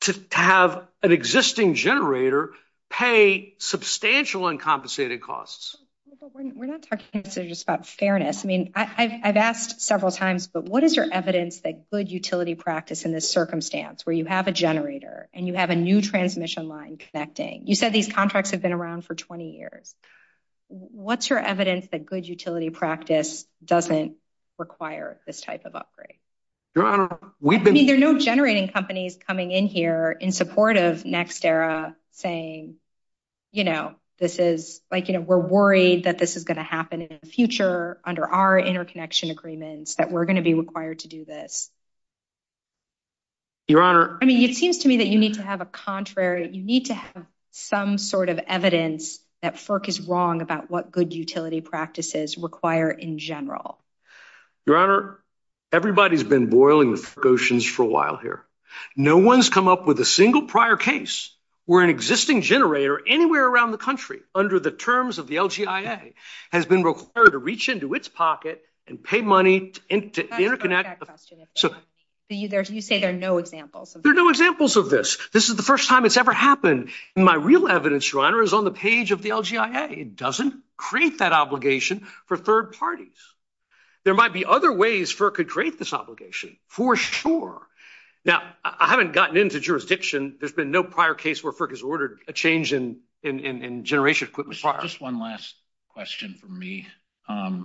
to have an existing generator pay substantial uncompensated costs? We're not talking just about fairness. I've asked several times, but what is your evidence that good utility practice in this circumstance where you have a generator and you have a new transmission line connecting. You said these contracts have been around for 20 years. What's your evidence that good utility practice doesn't require this type of upgrade? There are no generating companies coming in here in support of NextEra saying, you know, this is, like, you know, we're worried that this is going to happen in the future under our interconnection agreements that we're going to be required to do this. Your Honor. I mean, it seems to me that you need to have a contrary. You need to have some sort of evidence that FERC is wrong about what good utility practices require in general. Your Honor, everybody's been boiling with precautions for a while here. No one's come up with a single prior case where an existing generator anywhere around the country under the terms of the LGIA has been required to reach into its pocket and pay money to interconnect. You say there are no examples. There are no examples of this. This is the first time it's ever happened. And my real evidence, Your Honor, is on the page of the LGIA. It doesn't create that obligation for third parties. There might be other ways FERC could create this obligation, for sure. Now, I haven't gotten into jurisdiction. There's been no prior case where FERC has ordered a change in generation equipment. Just one last question from me. I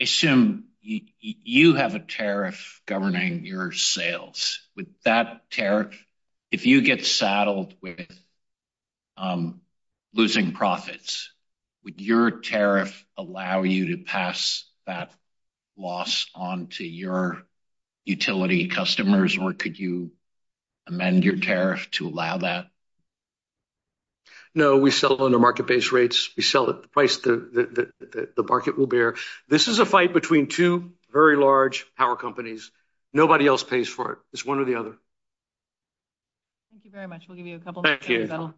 assume you have a tariff governing your sales. With that tariff, if you get saddled with losing profits, would your tariff allow you to pass that loss on to your utility customers, or could you amend your tariff to allow that? No, we sell under market-based rates. We sell at the price the market will bear. This is a fight between two very large power companies. Nobody else pays for it. It's one or the other. Thank you very much. We'll give you a couple more minutes, Bill.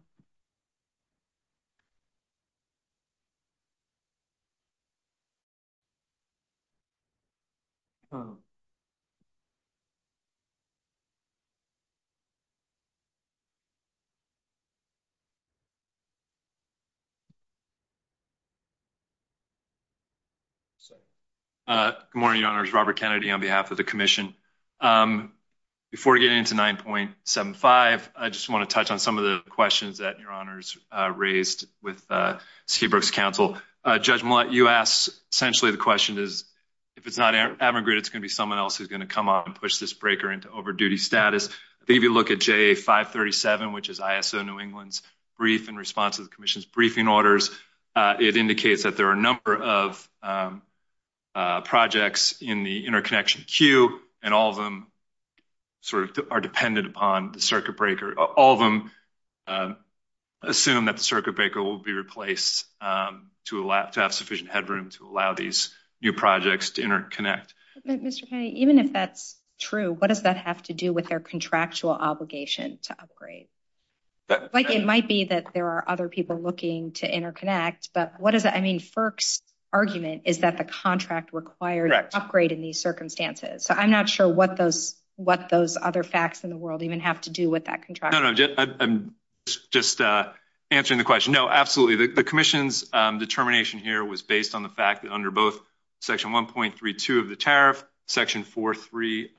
Thank you. Good morning, Your Honors. Robert Kennedy on behalf of the Commission. Before getting into 9.75, I just want to touch on some of the questions that Your Honors raised with Seabrook's counsel. Judge Millett, you asked, essentially, the question is, if it's not emigrated, it's going to be someone else who's going to come up and push this breaker into over-duty status. If you look at JA 537, which is ISO New England's brief in response to the Commission's request, it indicates that there are a number of projects in the interconnection queue, and all of them are dependent upon the circuit breaker. All of them assume that the circuit breaker will be replaced to have sufficient headroom to allow these new projects to interconnect. Mr. Kennedy, even if that's true, what does that have to do with their contractual obligation to upgrade? It might be that there are other people looking to interconnect, but what does that mean? FERC's argument is that the contract requires an upgrade in these circumstances. I'm not sure what those other facts in the world even have to do with that contract. No, no. I'm just answering the question. No, absolutely. The Commission's determination here was based on the fact that under both Section 1.32 of the tariff, Section 4.3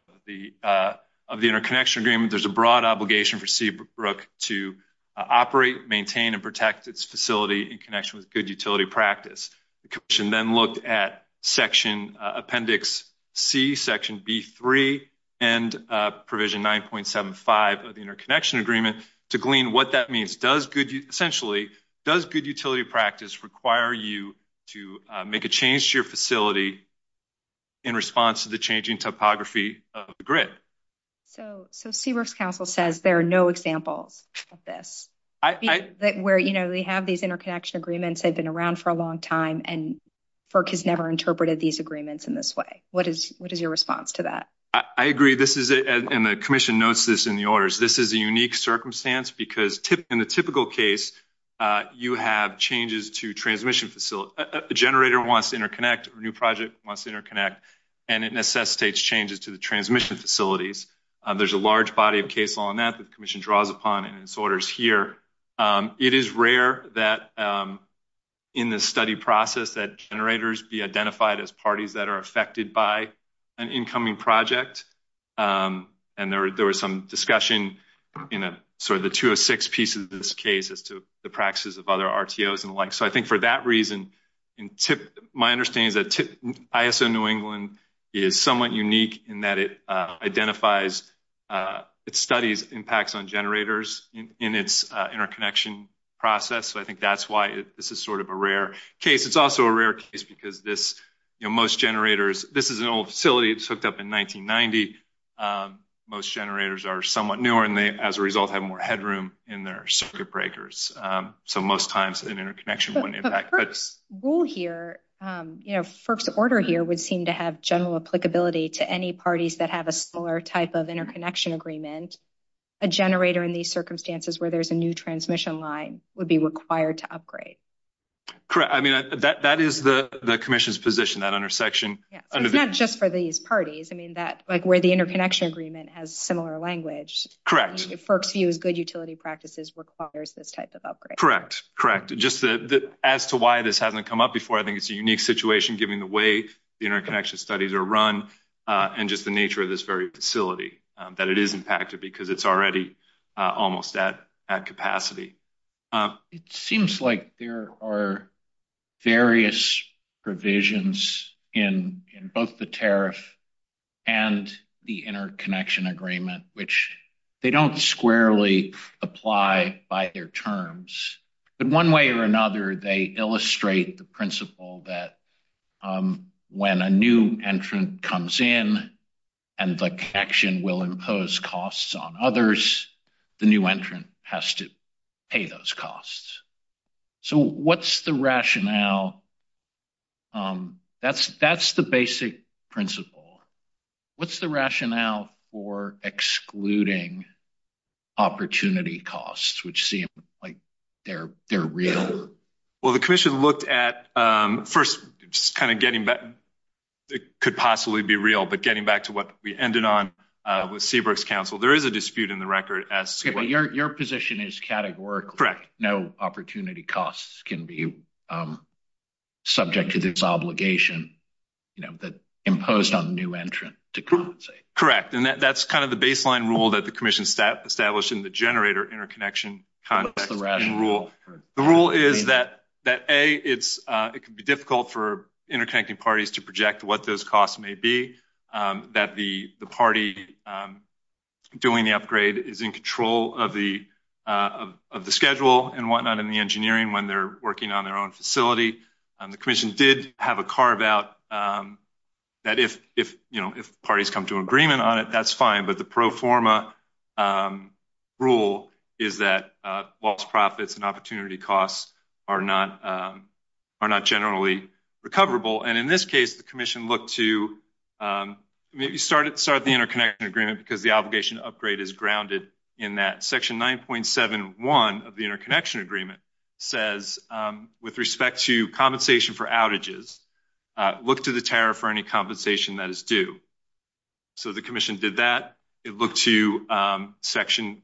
of the interconnection agreement, there's a broad obligation for Seabrook to operate, maintain, and protect its facility in connection with good utility practice. The Commission then looked at Section Appendix C, Section B.3, and Provision 9.75 of the interconnection agreement to glean what that means. Essentially, does good utility practice require you to make a change to your facility in response to the changing topography of the grid? So Seabrook's Council says there are no examples of this, where they have these interconnection agreements, they've been around for a long time, and FERC has never interpreted these agreements in this way. What is your response to that? I agree, and the Commission notes this in the Orders. This is a unique circumstance because in the typical case, you have changes to transmission facilities. A generator wants to interconnect, a new project wants to interconnect, and it necessitates changes to the transmission facilities. There's a large body of case law on that that the Commission draws upon in its Orders here. It is rare that in this study process that generators be identified as parties that are affected by an incoming project, and there was some discussion in sort of the 206 pieces of this case as to the practices of other RTOs and the like. So I think for that reason, my understanding is that ISO New England is somewhat unique in that it identifies, it studies impacts on generators in its interconnection process. So I think that's why this is sort of a rare case. It's also a rare case because this, you know, most generators, this is an old facility, it's hooked up in 1990. Most generators are somewhat newer, and they, as a result, have more headroom in their circuit breakers. So most times an interconnection wouldn't impact. But the first rule here, you know, FERC's Order here would seem to have general applicability to any parties that have a similar type of interconnection agreement. A generator in these circumstances where there's a new transmission line would be required to upgrade. Correct. I mean, that is the Commission's position, that under section... Yeah, but not just for these parties. I mean, that, like, where the interconnection agreement has similar language. Correct. FERC's view of good utility practices requires this type of upgrade. Correct. Correct. Just as to why this hasn't come up before, I think it's a unique situation given the way interconnection studies are run and just the nature of this very facility, that it is impacted because it's already almost at capacity. It seems like there are various provisions in both the tariff and the interconnection agreement, which they don't squarely apply by their terms. But one way or another, they illustrate the principle that when a new entrant comes in and the connection will impose costs on others, the new entrant has to pay those costs. So what's the rationale? That's the basic principle. What's the rationale for excluding opportunity costs, which seem like they're real? Well, the Commission looked at... First, just kind of getting back... It could possibly be real, but getting back to what we ended on with Seabrook's Council, there is a dispute in the record as to... Your position is categorical. Correct. No opportunity costs can be subject to this obligation imposed on the new entrant to compensate. Correct. And that's kind of the baseline rule that the Commission established in the generator interconnection rule. The rule is that, A, it can be difficult for interconnecting parties to project what those engineering when they're working on their own facility. The Commission did have a carve-out that if parties come to an agreement on it, that's fine. But the pro forma rule is that lost profits and opportunity costs are not generally recoverable. And in this case, the Commission looked to maybe start the interconnection agreement because the obligation upgrade is grounded in that. Section 9.71 of the interconnection agreement says, with respect to compensation for outages, look to the tariff for any compensation that is due. So the Commission did that. It looked to Section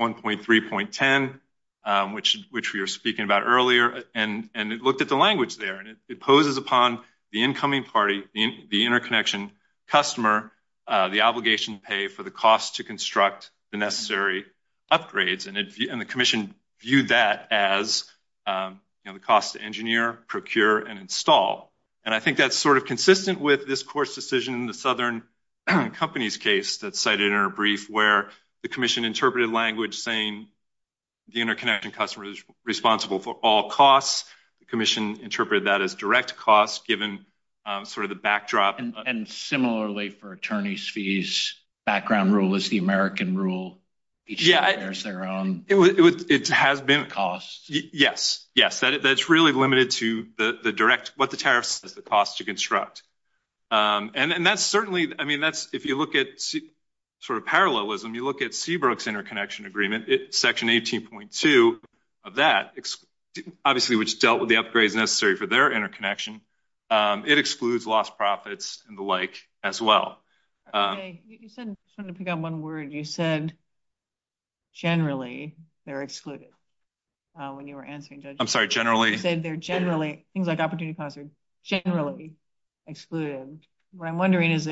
1.3.10, which we were speaking about earlier, and it looked at the language there. And it imposes upon the incoming party, the interconnection customer, the obligation to pay for the cost to construct the necessary upgrades. And the Commission viewed that as the cost to engineer, procure, and install. And I think that's sort of consistent with this course decision in the Southern Companies case that's cited in our brief where the Commission interpreted language saying the interconnection customer is responsible for all costs. The Commission interpreted that as direct costs given sort of the backdrop. And similarly, for attorneys' fees, background rule is the American rule. Yeah, it has been. Costs. Yes, yes. That's really limited to the direct, what the tariff costs to construct. And that's certainly, I mean, that's, if you look at sort of parallelism, you look at Seabrook's interconnection agreement, Section 18.2 of that, obviously which dealt with the upgrades necessary for their interconnection. It excludes lost profits and the like as well. You said, I'm just trying to pick out one word. You said generally they're excluded when you were answering, Judge. I'm sorry, generally? You said they're generally, things like opportunity cost are generally excluded. What I'm wondering is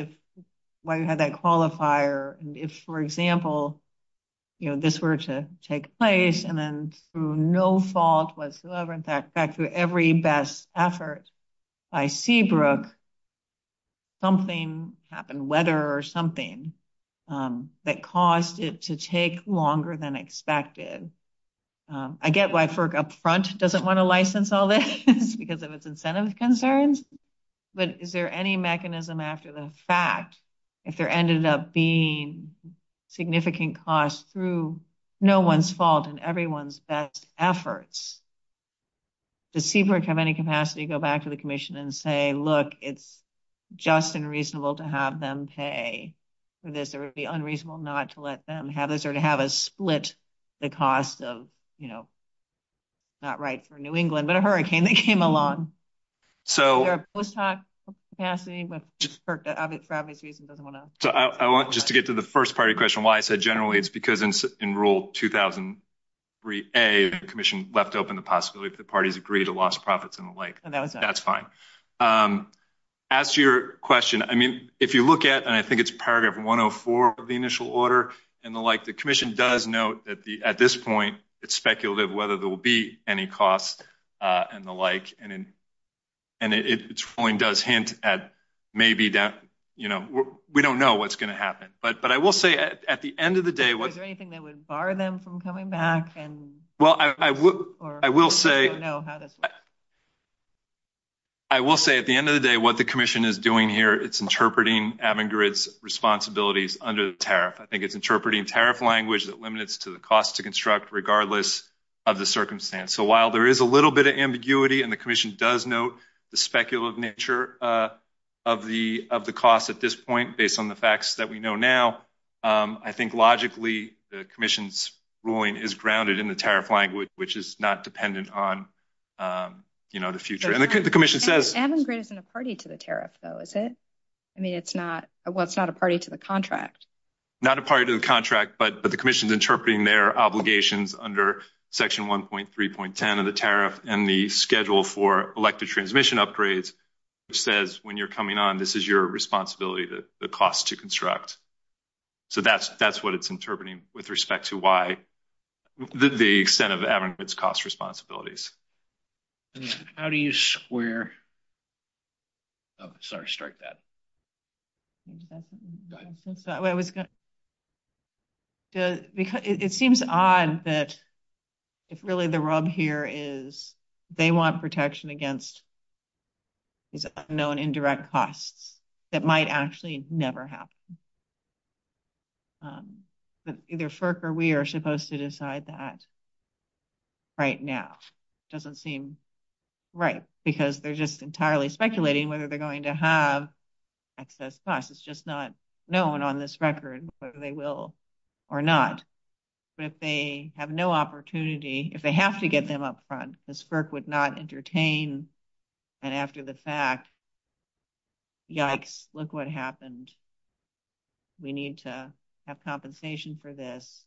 why you have that qualifier. If, for example, this were to take place and then through no fault whatsoever, in fact, through every best effort by Seabrook, something happened, whether or something, that caused it to take longer than expected. I get why FERC up front doesn't want to license all this because of its incentive concerns. But is there any mechanism after the fact, if there ended up being significant costs through no one's fault and everyone's best efforts, does Seabrook have any capacity to go back to the Commission and say, look, it's just unreasonable to have them pay? Would it be unreasonable not to let them have this or to have us split the cost of, you know, not right for New England, but a hurricane that came along? So, I want just to get to the first part of your question, why I said generally it's because in rule 2003A, the Commission left open the possibility for the parties to agree to loss of profits and the like. That's fine. As to your question, I mean, if you look at, and I think it's paragraph 104 of the initial order and the like, the Commission does note that at this point, it's speculative whether there will be any costs and the like. And it does hint at maybe that, you know, we don't know what's going to happen. But I will say at the end of the day... Is there anything that would bar them from coming back and... Well, I will say... I will say at the end of the day, what the Commission is doing here, it's interpreting Avangard's responsibilities under the tariff. I think it's interpreting tariff language that limits to the cost to construct regardless of the circumstance. So while there is a little bit of ambiguity and the Commission does note the speculative nature of the cost at this point, based on the facts that we know now, I think logically the Commission's ruling is grounded in the tariff language, which is not dependent on, you know, the future. And the Commission says... Avangard isn't a party to the tariff, though, is it? I mean, it's not a party to the contract. Not a party to the contract, but the Commission's interpreting their obligations under Section 1.3.10 of the tariff and the schedule for electric transmission upgrades, which says when you're coming on, this is your responsibility, the cost to construct. So that's what it's interpreting with respect to why... the extent of Avangard's cost responsibilities. How do you square... Oh, sorry, start that. Go ahead. I was going to... It seems odd that if really the rub here is they want protection against these unknown indirect costs that might actually never happen. But either FERC or we are supposed to decide that right now. It doesn't seem right, because they're just entirely speculating whether they're going to have excess costs. It's just not known on this record whether they will or not. But if they have no opportunity, if they have to get them up front, this FERC would not entertain, and after the fact, yikes, look what happened. We need to have compensation for this.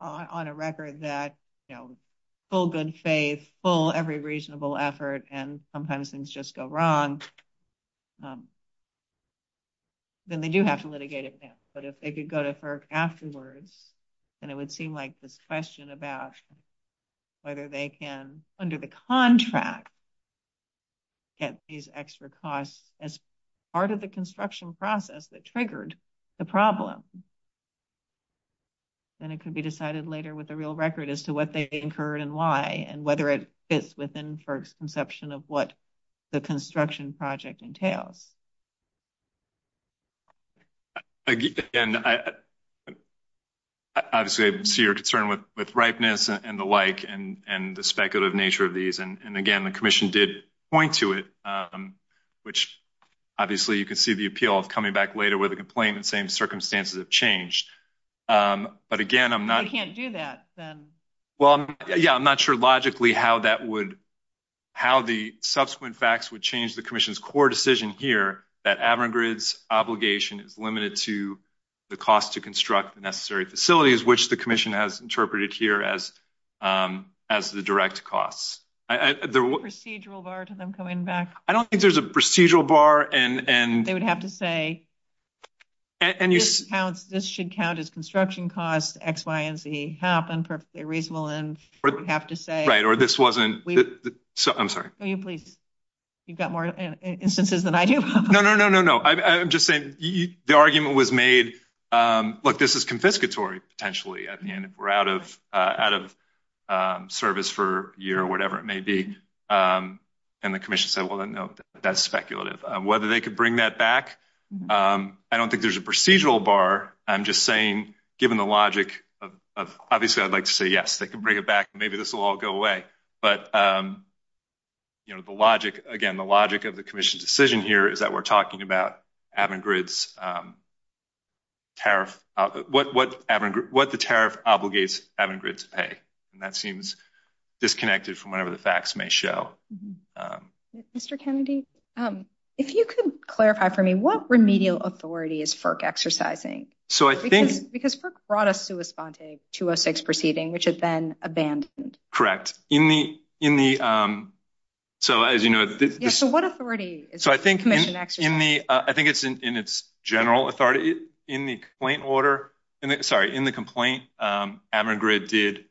On a record that, you know, full good faith, full every reasonable effort, and sometimes things just go wrong. Then they do have to litigate it now. But if they could go to FERC afterwards, then it would seem like the question about whether they can, under the contract, get these extra costs as part of the construction process that triggered the problem. Then it could be decided later with the real record and whether it fits within FERC's conception of what the construction project entails. Obviously, I see your concern with ripeness and the like and the speculative nature of these, and again, the commission did point to it, which obviously you could see the appeal of coming back later with a complaint and saying circumstances have changed. But again, I'm not... You can't do that, then. Well, yeah, I'm not sure logically how that would, how the subsequent facts would change the commission's core decision here that AveraGrid's obligation is limited to the cost to construct the necessary facilities, which the commission has interpreted here as the direct costs. Is there a procedural bar to them coming back? I don't think there's a procedural bar and... They would have to say, and this should count as construction costs, X, Y, and Z. Perhaps a reasonable end would have to say. That's right, or this wasn't... I'm sorry. Can you please... You've got more instances than I have. No, no, no, no, no. I'm just saying the argument was made, look, this is confiscatory, potentially. I mean, we're out of service for a year or whatever it may be. And the commission said, well, no, that's speculative. Whether they could bring that back, I don't think there's a procedural bar. I'm just saying, given the logic of... Obviously, I'd like to say, yes, they can bring it back. Maybe this will all go away. But the logic, again, the logic of the commission's decision here is that we're talking about Avangrid's tariff. What the tariff obligates Avangrid to pay. And that seems disconnected from whatever the facts may show. Mr. Kennedy, if you could clarify for me, what remedial authority is FERC exercising? So I think... Because FERC brought us to responding to a sex proceeding, which is then abandoned. Correct. In the... So as you know... So what authority is the commission exercising? I think it's in its general authority. In the complaint order... Sorry, in the complaint, Avangrid did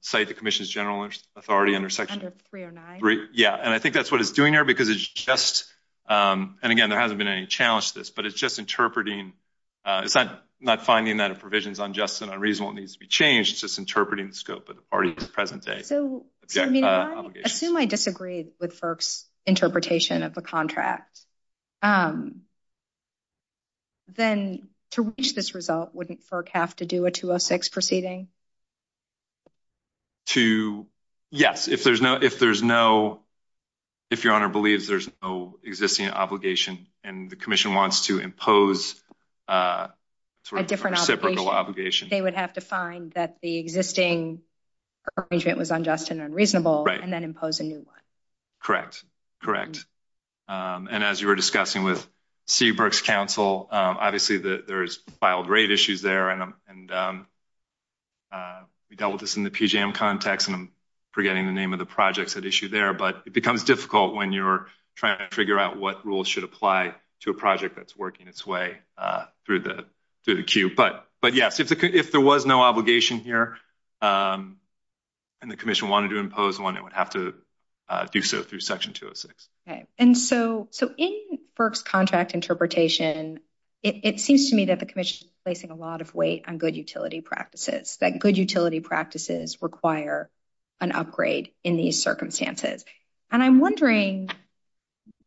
cite the commission's general authority under section... Under 309. Yeah, and I think that's what it's doing here, because it's just... And again, there hasn't been any challenge to this, but it's just interpreting... It's not finding that a provision is unjust and unreasonable. It needs to be changed. It's just interpreting the scope of the party to the present day. So I assume I disagree with FERC's interpretation of the contract. Then to reach this result, wouldn't FERC have to do a 206 proceeding? To... Yes, if there's no... If Your Honor believes there's no existing obligation and the commission wants to impose a sort of reciprocal obligation... They would have to find that the existing arrangement was unjust and unreasonable... Right. ...and then impose a new one. Correct. Correct. And as you were discussing with Steve Burke's counsel, obviously there's filed rate issues there, and we dealt with this in the PJM context, and I'm forgetting the name of the projects at issue there, but it becomes difficult when you're trying to figure out what rules should apply to a project that's working its way through the queue. But yes, if there was no obligation here and the commission wanted to impose one, it would have to do so through Section 206. And so in Burke's contract interpretation, it seems to me that the commission is placing a lot of weight on good utility practices, that good utility practices require an upgrade in these circumstances. And I'm wondering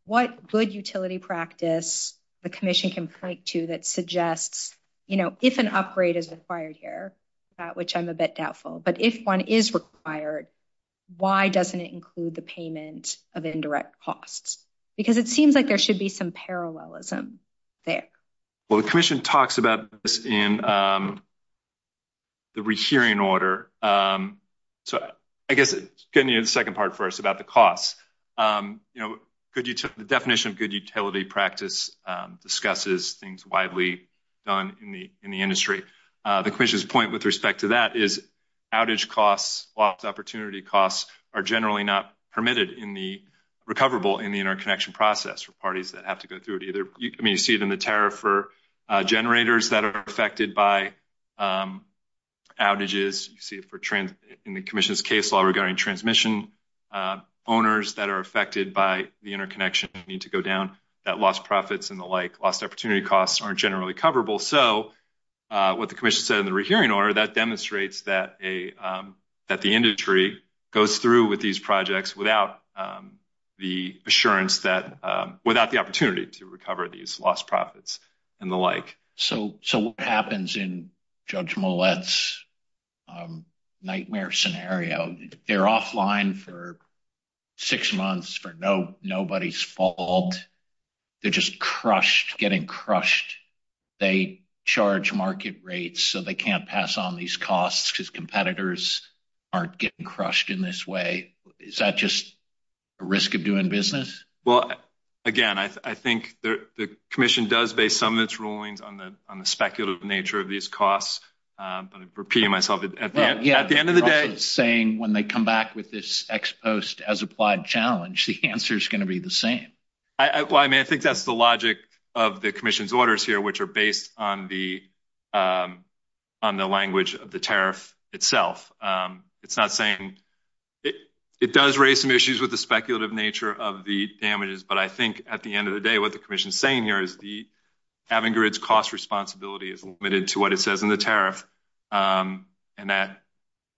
what good utility practice the commission can point to that suggests, you know, if an upgrade is required here, which I'm a bit doubtful, but if one is required, why doesn't it include the payment of indirect costs? Because it seems like there should be some parallelism there. Well, the commission talks about this in the re-hearing order. So I guess getting into the second part first about the cost. You know, the definition of good utility practice discusses things widely done in the industry. The commission's point with respect to that is outage costs, lost opportunity costs, are generally not permitted in the recoverable in the interconnection process for parties that have to go through it either. I mean, you see it in the tariff for generators that are affected by outages. You see it in the commission's case law regarding transmission owners that are affected by the interconnection and need to go down, that lost profits and the like, lost opportunity costs aren't generally coverable. So what the commission said in the re-hearing order, that demonstrates that the industry goes through with these projects without the assurance that, without the opportunity to recover these lost profits and the like. So what happens in Judge Millett's nightmare scenario? You know, they're offline for six months for nobody's fault. They're just crushed, getting crushed. They charge market rates so they can't pass on these costs because competitors aren't getting crushed in this way. Is that just a risk of doing business? Well, again, I think the commission does base some of its rulings on the speculative nature of these costs. I'm repeating myself. At the end of the day. When they come back with this ex-post as applied challenge, the answer is going to be the same. Well, I mean, I think that's the logic of the commission's orders here, which are based on the language of the tariff itself. It's not saying, it does raise some issues with the speculative nature of the damages, but I think at the end of the day, what the commission is saying here is Avingred's cost responsibility is limited to what it says in the tariff. And that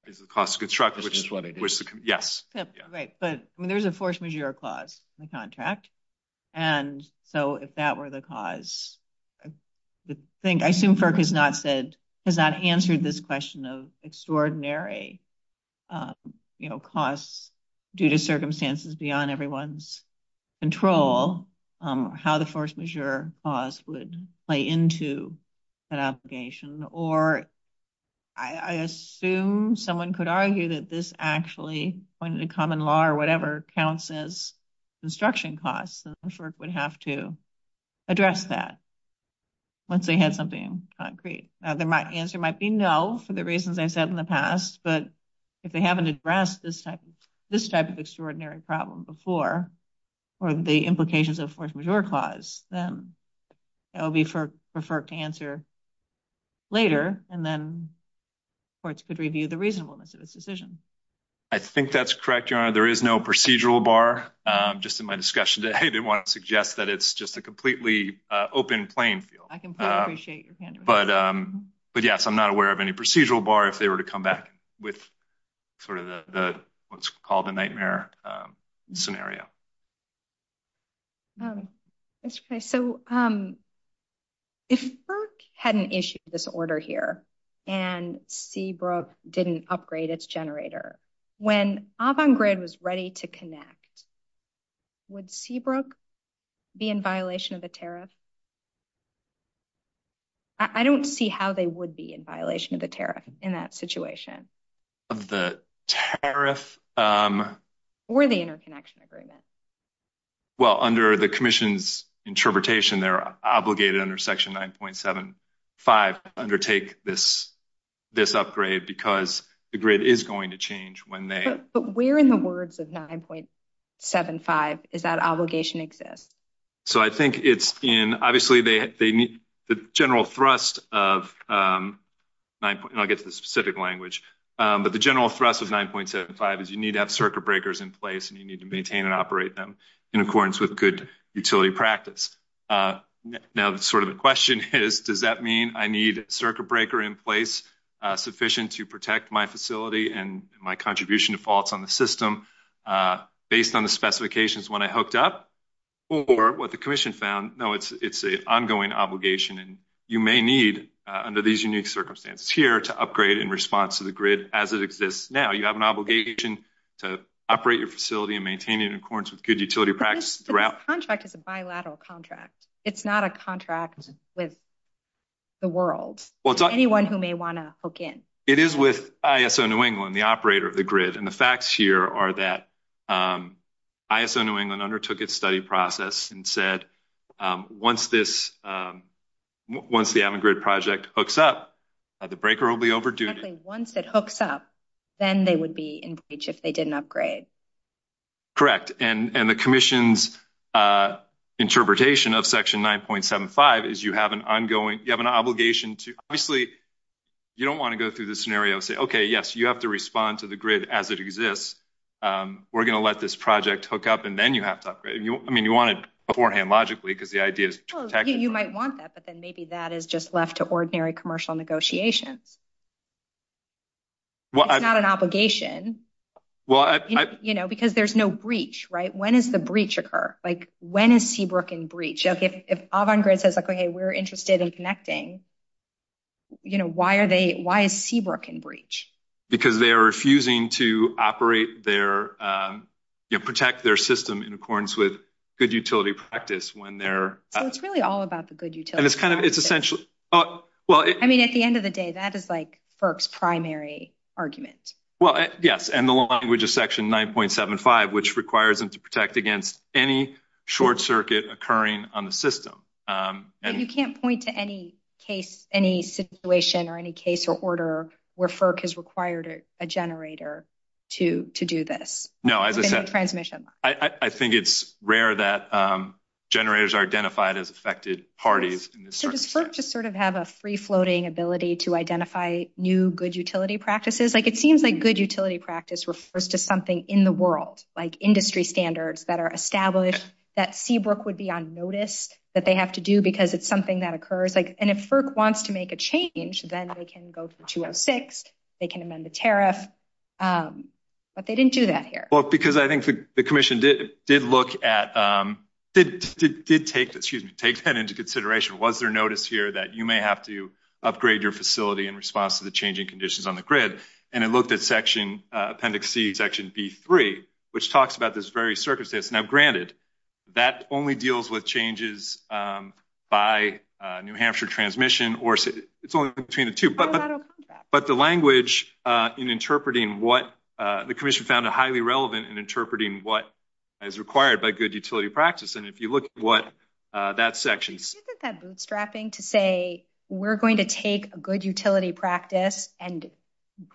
is the cost of construction. Yes. Right. But there's a force majeure clause in the contract. And so if that were the cause, I assume FERC has not said, has not answered this question of extraordinary costs due to circumstances beyond everyone's control, how the force majeure clause would play into that application. Or I assume someone could argue that this actually, under the common law or whatever, counts as construction costs and FERC would have to address that once they had something concrete. The answer might be no for the reasons I said in the past, but if they haven't addressed this type of extraordinary problem before or the implications of force majeure clause, then it would be for FERC to answer later. And then courts could review the reasonableness of this decision. I think that's correct, Your Honor. There is no procedural bar. Just in my discussion today, I didn't want to suggest that it's just a completely open playing field. I completely appreciate your pandering. But yes, I'm not aware of any procedural bar if they were to come back with sort of what's called a nightmare scenario. If FERC had an issue with this order here and Seabrook didn't upgrade its generator, when Avangrid was ready to connect, would Seabrook be in violation of the tariff? I don't see how they would be in violation of the tariff in that situation. Of the tariff? Or the interconnection agreement. Well, under the commission's interpretation, they're obligated under section 9.75 to undertake this upgrade because the grid is going to change when they... But where in the words of 9.75 does that obligation exist? So I think it's in, obviously, the general thrust of... And I'll get to the specific language. But the general thrust of 9.75 is you need to have circuit breakers in place and you need to maintain and operate them in accordance with good utility practice. Now, the question is, does that mean I need a circuit breaker in place sufficient to protect my facility and my contribution to faults on the system based on the specifications when I hooked up or what the commission found? No, it's an ongoing obligation. And you may need, under these unique circumstances here, to upgrade in response to the grid as it exists now. You have an obligation to operate your facility and maintain it in accordance with good utility practice throughout. But this contract is a bilateral contract. It's not a contract with the world. It's anyone who may want to hook in. It is with ISO New England, the operator of the grid. And the facts here are that ISO New England undertook its study process and said once the Avon grid project hooks up, the breaker will be overdue. Once it hooks up, then they would be in breach if they didn't upgrade. Correct. And the commission's interpretation of Section 9.75 is you have an obligation to, obviously, you don't want to go through the scenario and say, okay, yes, you have to respond to the grid as it exists. We're going to let this project hook up and then you have to upgrade. I mean, you want it beforehand, logically, because the idea is to protect. You might want that, but then maybe that is just left to ordinary commercial negotiation. It's not an obligation. You know, because there's no breach, right? When does the breach occur? Like when is Seabrook in breach? If Avon grid says, okay, we're interested in connecting, you know, why is Seabrook in breach? Because they are refusing to operate their, you know, protect their system in accordance with good utility practice when they're. It's really all about the good utility practice. And it's kind of, it's essentially. I mean, at the end of the day, that is like FERC's primary argument. Well, yes, and the language is Section 9.75, which requires them to protect against any short circuit occurring on the system. And you can't point to any case, any situation or any case or order where FERC has required a generator to do this. No, I think it's rare that generators are identified as affected parties. Does FERC just sort of have a free floating ability to identify new good utility practices? Like it seems like good utility practice refers to something in the world, like industry standards that are established, that Seabrook would be on notice that they have to do because it's something that occurs. And if FERC wants to make a change, then they can go through 206. They can amend the tariff. But they didn't do that here. Well, because I think the commission did look at, did take that into consideration. Was there notice here that you may have to upgrade your facility in response to the changing conditions on the grid? And it looked at Section, Appendix C, Section B3, which talks about this very circuit that's now granted. That only deals with changes by New Hampshire transmission. It's only between the two. But the language in interpreting what the commission found highly relevant in interpreting what is required by good utility practice. And if you look at that section. Isn't that bootstrapping to say we're going to take a good utility practice and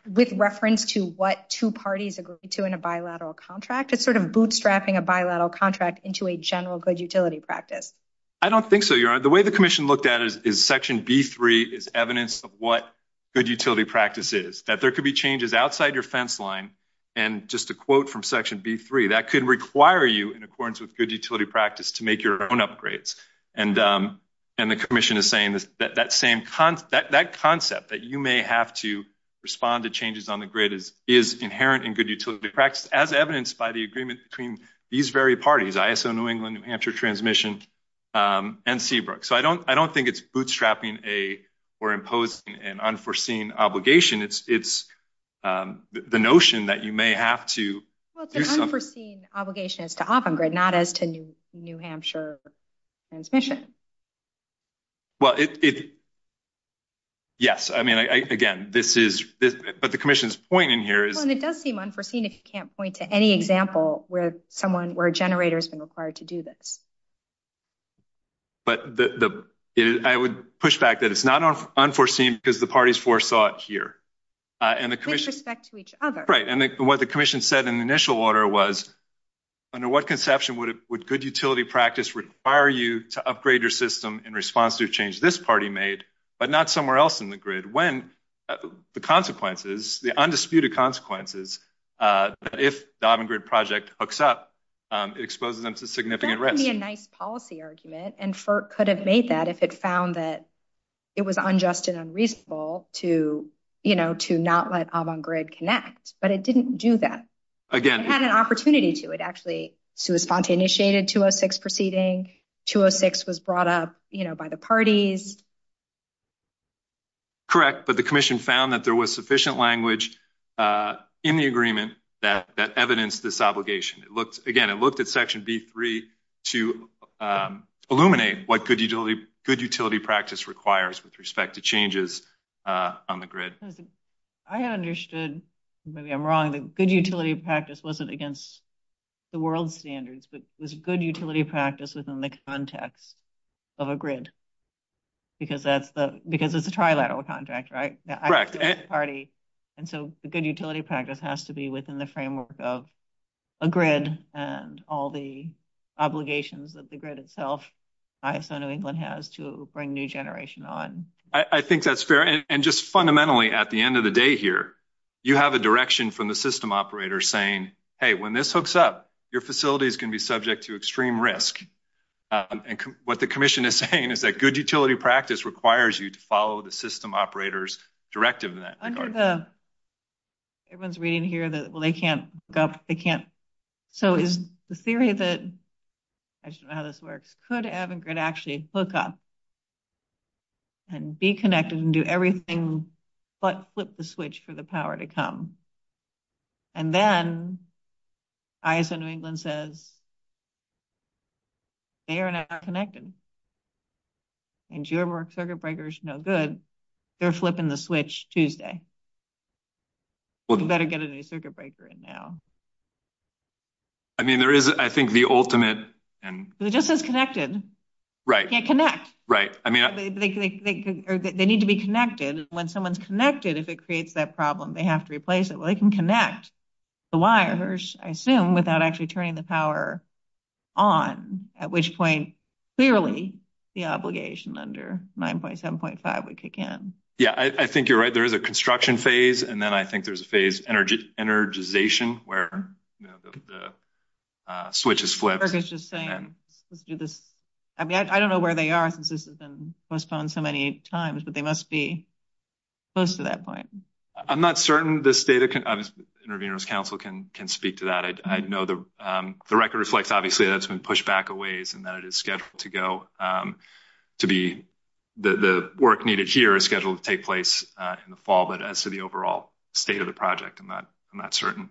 with reference to what two parties agree to in a bilateral contract? Or is that just sort of bootstrapping a bilateral contract into a general good utility practice? I don't think so, Your Honor. The way the commission looked at it is Section B3 is evidence of what good utility practice is. That there could be changes outside your fence line. And just a quote from Section B3, that could require you in accordance with good utility practice to make your own upgrades. And the commission is saying that that concept that you may have to respond to changes on the grid is inherent in good utility practice as evidenced by the agreement between these very parties. ISO New England, New Hampshire transmission, and Seabrook. So I don't think it's bootstrapping or imposing an unforeseen obligation. It's the notion that you may have to do something. Well, it's an unforeseen obligation as to off-grid, not as to New Hampshire transmission. Well, yes. I mean, again, this is – but the commission's point in here is – Well, and it does seem unforeseen if you can't point to any example where a generator has been required to do this. But I would push back that it's not unforeseen because the parties foresaw it here. With respect to each other. Right. And what the commission said in the initial order was, under what conception would good utility practice require you to upgrade your system in response to a change this party made, but not somewhere else in the grid, when the consequences, the undisputed consequences, if the Avangrid project hooks up, it exposes them to significant risk. That would be a nice policy argument, and FERC could have made that if it found that it was unjust and unreasonable to not let Avangrid connect. But it didn't do that. Again – It had an opportunity to. It actually spontaneously initiated 206 proceeding. 206 was brought up by the parties. Correct. But the commission found that there was sufficient language in the agreement that evidenced this obligation. Again, it looked at Section D3 to illuminate what good utility practice requires with respect to changes on the grid. I understood. Maybe I'm wrong, but good utility practice wasn't against the world standards, but good utility practice was in the context of a grid. Because it's a trilateral contract, right? Correct. And so, the good utility practice has to be within the framework of a grid and all the obligations that the grid itself, ISO New England has to bring new generation on. I think that's fair. And just fundamentally, at the end of the day here, you have a direction from the system operators saying, hey, when this hooks up, your facilities can be subject to extreme risk. And what the commission is saying is that good utility practice requires you to follow the system operator's directive in that regard. Everyone's reading here that, well, they can't, they can't. So, is the theory that, I just don't know how this works, could avid grid actually hook up and be connected and do everything but flip the switch for the power to come? And then, ISO New England says, they are not connected. And your circuit breaker is no good. They're flipping the switch Tuesday. You better get a new circuit breaker in now. I mean, there is, I think, the ultimate. It just says connected. Right. You can't connect. Right. They need to be connected. And when someone's connected, if it creates that problem, they have to replace it. Well, they can connect the wires, I assume, without actually turning the power on, at which point, clearly the obligation under 9.7.5 would kick in. Yeah. I think you're right. There is a construction phase, and then I think there's a phase, energization, where the switch is flipped. I mean, I don't know where they are since this has been postponed so many times, but they must be close to that point. I'm not certain this data can speak to that. I know the record reflects, obviously, that it's been pushed back a ways and that it is scheduled to go. The work needed here is scheduled to take place in the fall, but as to the overall state of the project, I'm not certain.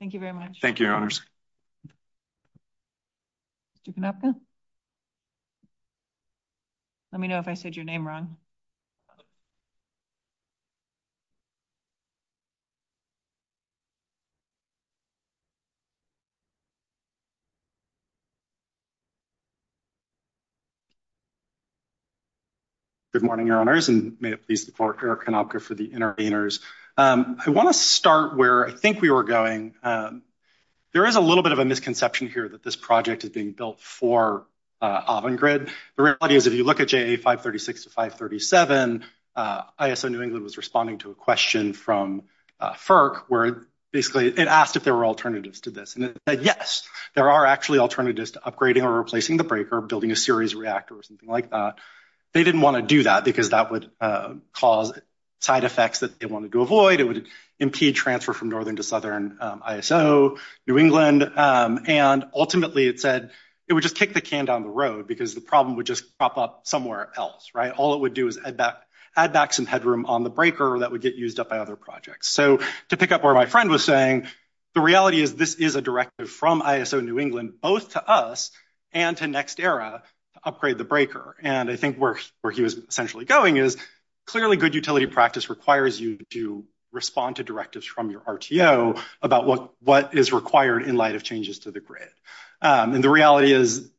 Thank you very much. Thank you. Thank you, Your Honors. Mr. Canopka? Let me know if I said your name wrong. Good morning, Your Honors, and may it please the floor, Eric Canopka for the interveners. I want to start where I think we were going. There is a little bit of a misconception here that this project is being built for Avangrid. The reality is if you look at JA 536 to 537, ISO New England was responding to a question from FERC where basically it asked if there were alternatives to this, and it said, yes, there are actually alternatives to upgrading or replacing the breaker, building a series reactor or something like that. They didn't want to do that because that would cause side effects that they wanted to avoid. It would impede transfer from northern to southern ISO New England. And ultimately it said it would just kick the can down the road because the problem would just pop up somewhere else, right? All it would do is add back some headroom on the breaker that would get used up by other projects. So to pick up where my friend was saying, the reality is this is a directive from ISO New England, both to us and to NextEra to upgrade the breaker. And I think where he was essentially going is clearly good utility practice requires you to respond to directives from your RTO about what is required in light of changes to the grid. And the reality is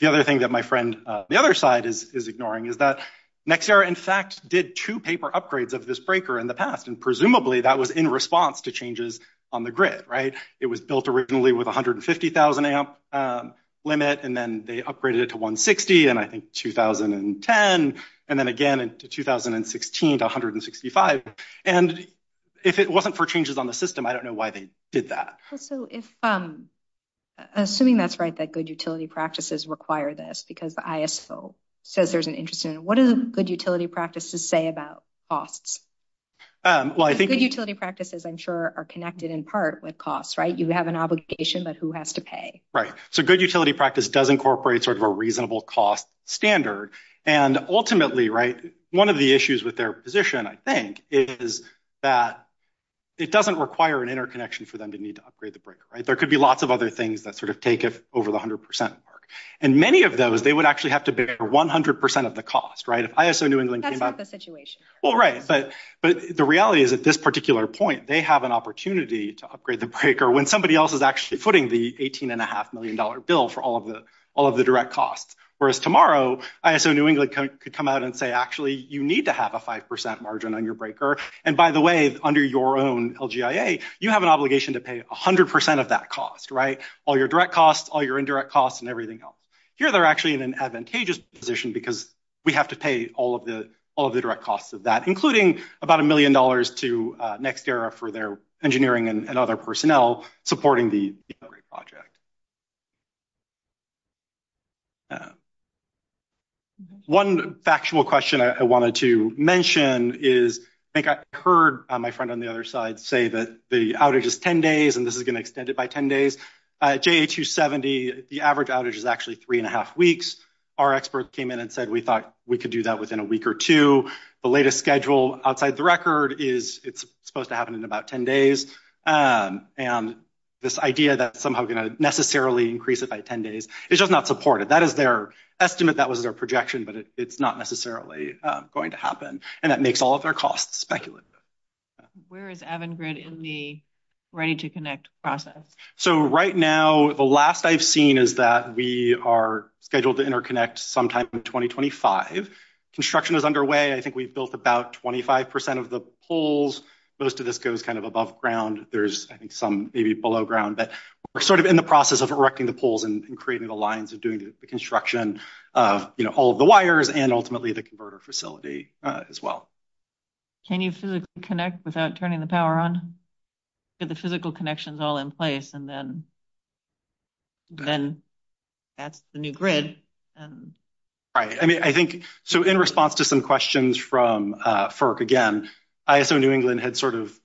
the other thing that my friend, the other side is ignoring is that NextEra in fact did two paper upgrades of this breaker in the past. And presumably that was in response to changes on the grid, right? It was built originally with 150,000 amp limit, and then they upgraded it to 160 and I think 2010. And then again in 2016 to 165. And if it wasn't for changes on the system, I don't know why they did that. Assuming that's right, that good utility practices require this because the ISO says there's an interest in it. What does good utility practices say about costs? Good utility practices I'm sure are connected in part with costs, right? You have an obligation, but who has to pay? Right. So good utility practice does incorporate sort of a reasonable cost standard. And ultimately, right, one of the issues with their position, I think is that it doesn't require an interconnection for them to need to upgrade the breaker, right? There could be lots of other things that sort of take it over the hundred percent mark. And many of those, they would actually have to bear 100% of the cost, right? That's not the situation. Well, right. But the reality is at this particular point, they have an opportunity to upgrade the breaker when somebody else is actually footing the 18 and a half million dollar bill for all of the, all of the direct costs. Whereas tomorrow ISO New England could come out and say, actually, you need to have a 5% margin on your breaker. And by the way, under your own LGIA, you have an obligation to pay a hundred percent of that cost, right? All your direct costs, all your indirect costs and everything else here. They're actually in an advantageous position because we have to pay all of the, all of the direct costs of that, including about a million dollars to next era for their engineering and other personnel supporting the project. One factual question I wanted to mention is, I think I heard my friend on the other side say that the outage is 10 days and this is going to extend it by 10 days. J2 70. The average outage is actually three and a half weeks. Our experts came in and said, we thought we could do that within a week or two. The latest schedule outside the record is it's supposed to happen in about 10 days. And this idea that somehow going to, necessarily increase it by 10 days. It's just not supported. That is their estimate. That was their projection, but it's not necessarily going to happen. And that makes all of their costs speculative. Where is Avangard in the ready to connect process. So right now, the last I've seen is that we are scheduled to interconnect sometime in 2025 construction is underway. I think we've built about 25% of the holes, but as to this goes kind of above ground, there's, I think, maybe below ground, but we're sort of in the process of erecting the poles and creating the lines of doing the construction, you know, all of the wires and ultimately the converter facility as well. Can you connect without turning the power on? Yeah. The physical connections all in place. And then, then that's the new grid. Right. I mean, I think, so in response to some questions from FERC, again, ISO New England had sort of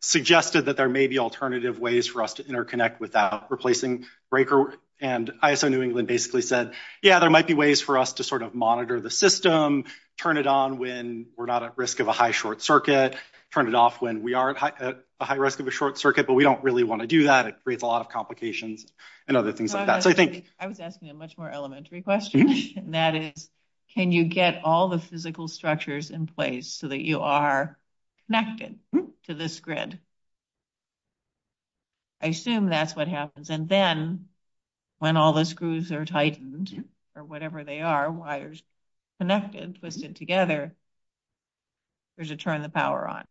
suggested that there may be alternative ways for us to interconnect without replacing breaker. And ISO New England basically said, yeah, there might be ways for us to sort of monitor the system, turn it on when we're not at risk of a high short circuit, turn it off when we are at a high risk of a short circuit, but we don't really want to do that. It creates a lot of complications and other things like that. I was asking a much more elementary question. And that is, can you get all the physical structures in place so that you are connected to this grid? I assume that's what happens. And then when all the screws are tightened, or whatever they are, wires connected, twisted together, there's a turn the power on.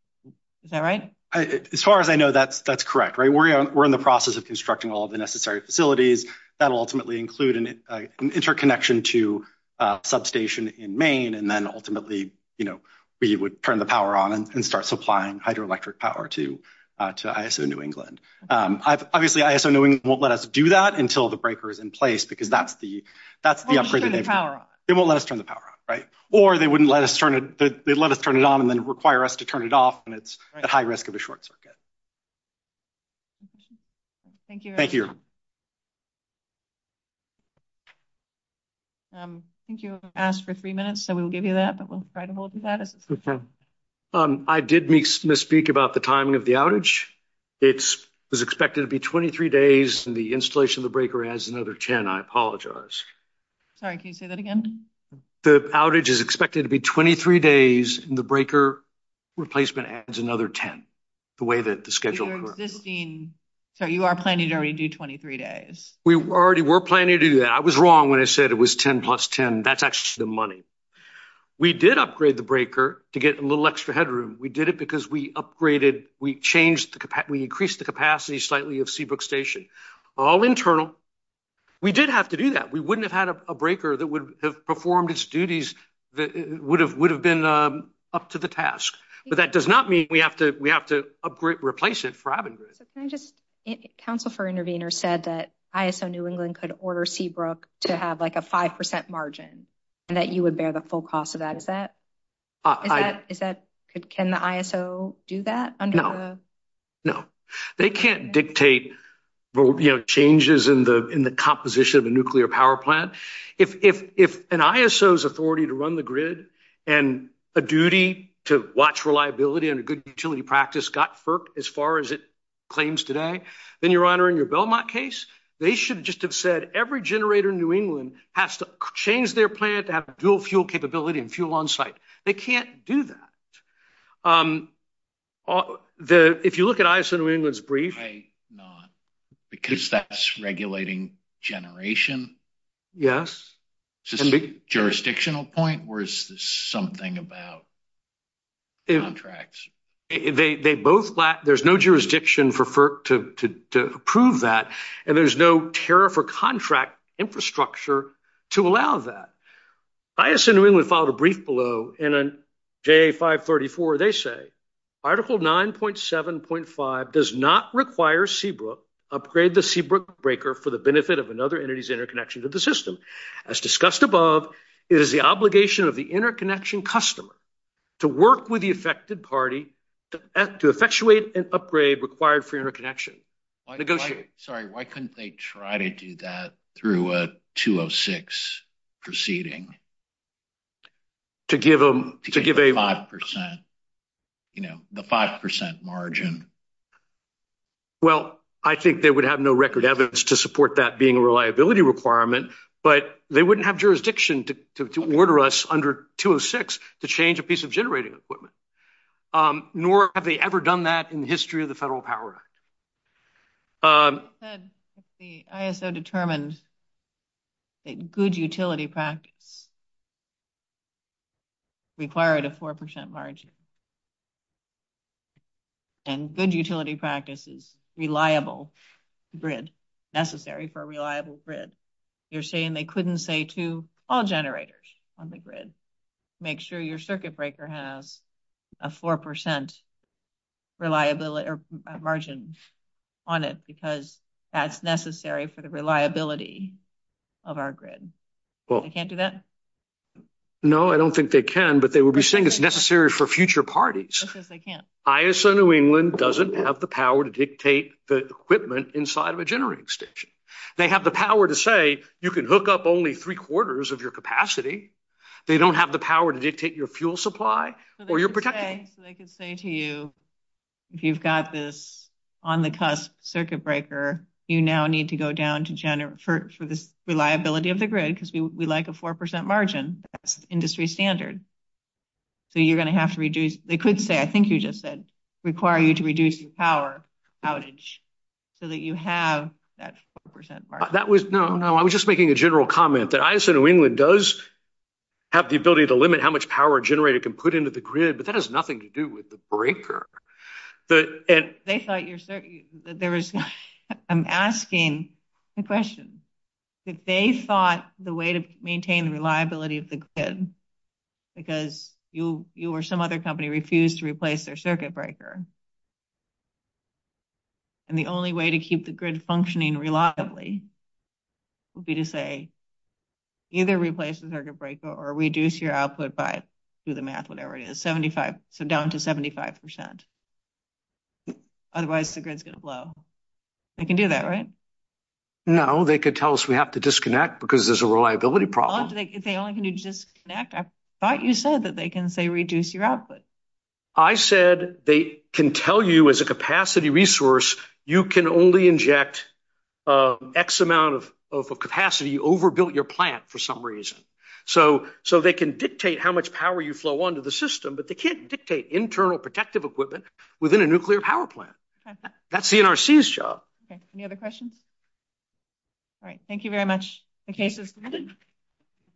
Is that right? As far as I know, that's correct, right? We're in the process of constructing all the necessary facilities that will ultimately include an interconnection to a substation in Maine. And then ultimately, you know, we would turn the power on and start supplying hydroelectric power to, to ISO New England. Obviously ISO New England won't let us do that until the breaker is in place because that's the, that's the opportunity. They won't let us turn the power off, right? Or they wouldn't let us turn it on and then require us to turn it off. And it's a high risk of a short circuit. Thank you. I think you asked for three minutes, so we will give you that, but we'll try to hold you to that. I did misspeak about the timing of the outage. It was expected to be 23 days and the installation of the breaker adds another 10. I apologize. Sorry, can you say that again? The outage is expected to be 23 days and the breaker replacement adds another 10, the way that the schedule works. So you are planning to already do 23 days. We already were planning to do that. I was wrong. When I said it was 10 plus 10, that's actually the money. We did upgrade the breaker to get a little extra headroom. We did it because we upgraded, we changed the capacity, we increased the capacity slightly of Seabrook station, all internal. We did have to do that. We wouldn't have had a breaker that would have performed its duties. That would have, would have been up to the task, but that does not mean we have to, we have to upgrade, replace it for having good. Counsel for intervener said that ISO New England could order Seabrook to have like a 5% margin and that you would bear the full cost of that. Is that, is that, can the ISO do that? No, no, they can't dictate, you know, changes in the, in the composition of the nuclear power plant. If, if, if an ISO is authority to run the grid and a duty to watch reliability and a good utility practice got FERC as far as it claims today, then your honor in your Belmont case, they should just have said every generator in new England has to change their plant to have dual fuel capability and fuel on site. They can't do that. If you look at ISO New England's brief. Because that's regulating generation. Yes. Is this a jurisdictional point or is this something about. Contracts. They, they both lack, there's no jurisdiction for FERC to approve that and there's no tariff or contract infrastructure to allow that. ISO New England filed a brief below and on J 5 34, they say article 9.7 0.5 does not require Seabrook upgrade the Seabrook breaker for the benefit of another entity's interconnection to the system as discussed above is the obligation of the interconnection customer. To work with the affected party to effectuate an upgrade required for interconnection. Sorry. Why couldn't they try to do that through a two Oh six proceeding to give them to give a 5%, you know, the 5% margin. Well, I think they would have no record evidence to support that being a reliability requirement, but they wouldn't have jurisdiction to order us under two Oh six to change a piece of generating equipment. Nor have they ever done that in the history of the federal power. The ISO determined that good utility practice required a 4% margin and good utility practices, reliable grid necessary for a reliable grid. You're saying they couldn't say to all generators on the grid, make sure your circuit breaker has a 4% reliability or margin on it because that's necessary for the reliability of our grid. Well, I can't do that. No, I don't think they can, but they will be saying it's necessary for future parties. ISO New England doesn't have the power to dictate the equipment inside of a generating station. They have the power to say you can hook up only three quarters of your capacity. They don't have the power to dictate your fuel supply or your protection. They could say to you, if you've got this on the cusp circuit breaker, you now need to go down to Jenner for, for the reliability of the grid because we like a 4% margin industry standard. So you're going to have to reduce, they could say, I think you just said require you to reduce your power outage so that you have that 4% margin. No, I was just making a general comment that ISO New England does have the ability to limit how much power a generator can put into the grid, but that has nothing to do with the breaker. I'm asking the question that they thought the way to maintain the reliability of the grid, because you, you or some other company refused to replace their circuit breaker. And the only way to keep the grid functioning reliably would be to say either replace the circuit breaker or reduce your output by do the math, whatever it is, 75 to down to 75%. Otherwise the grid's going to blow. They can do that, right? No, they could tell us we have to disconnect because there's a reliability problem. If they only can do disconnect, I thought you said that they can say reduce your output. I said they can tell you as a capacity resource, you can only inject X amount of, of a capacity overbuilt your plant for some reason. So, so they can dictate how much power you flow onto the system, but they can't dictate internal protective equipment within a nuclear power plant. That's the NRC's job. Okay. Any other questions? All right. Thank you very much. Okay.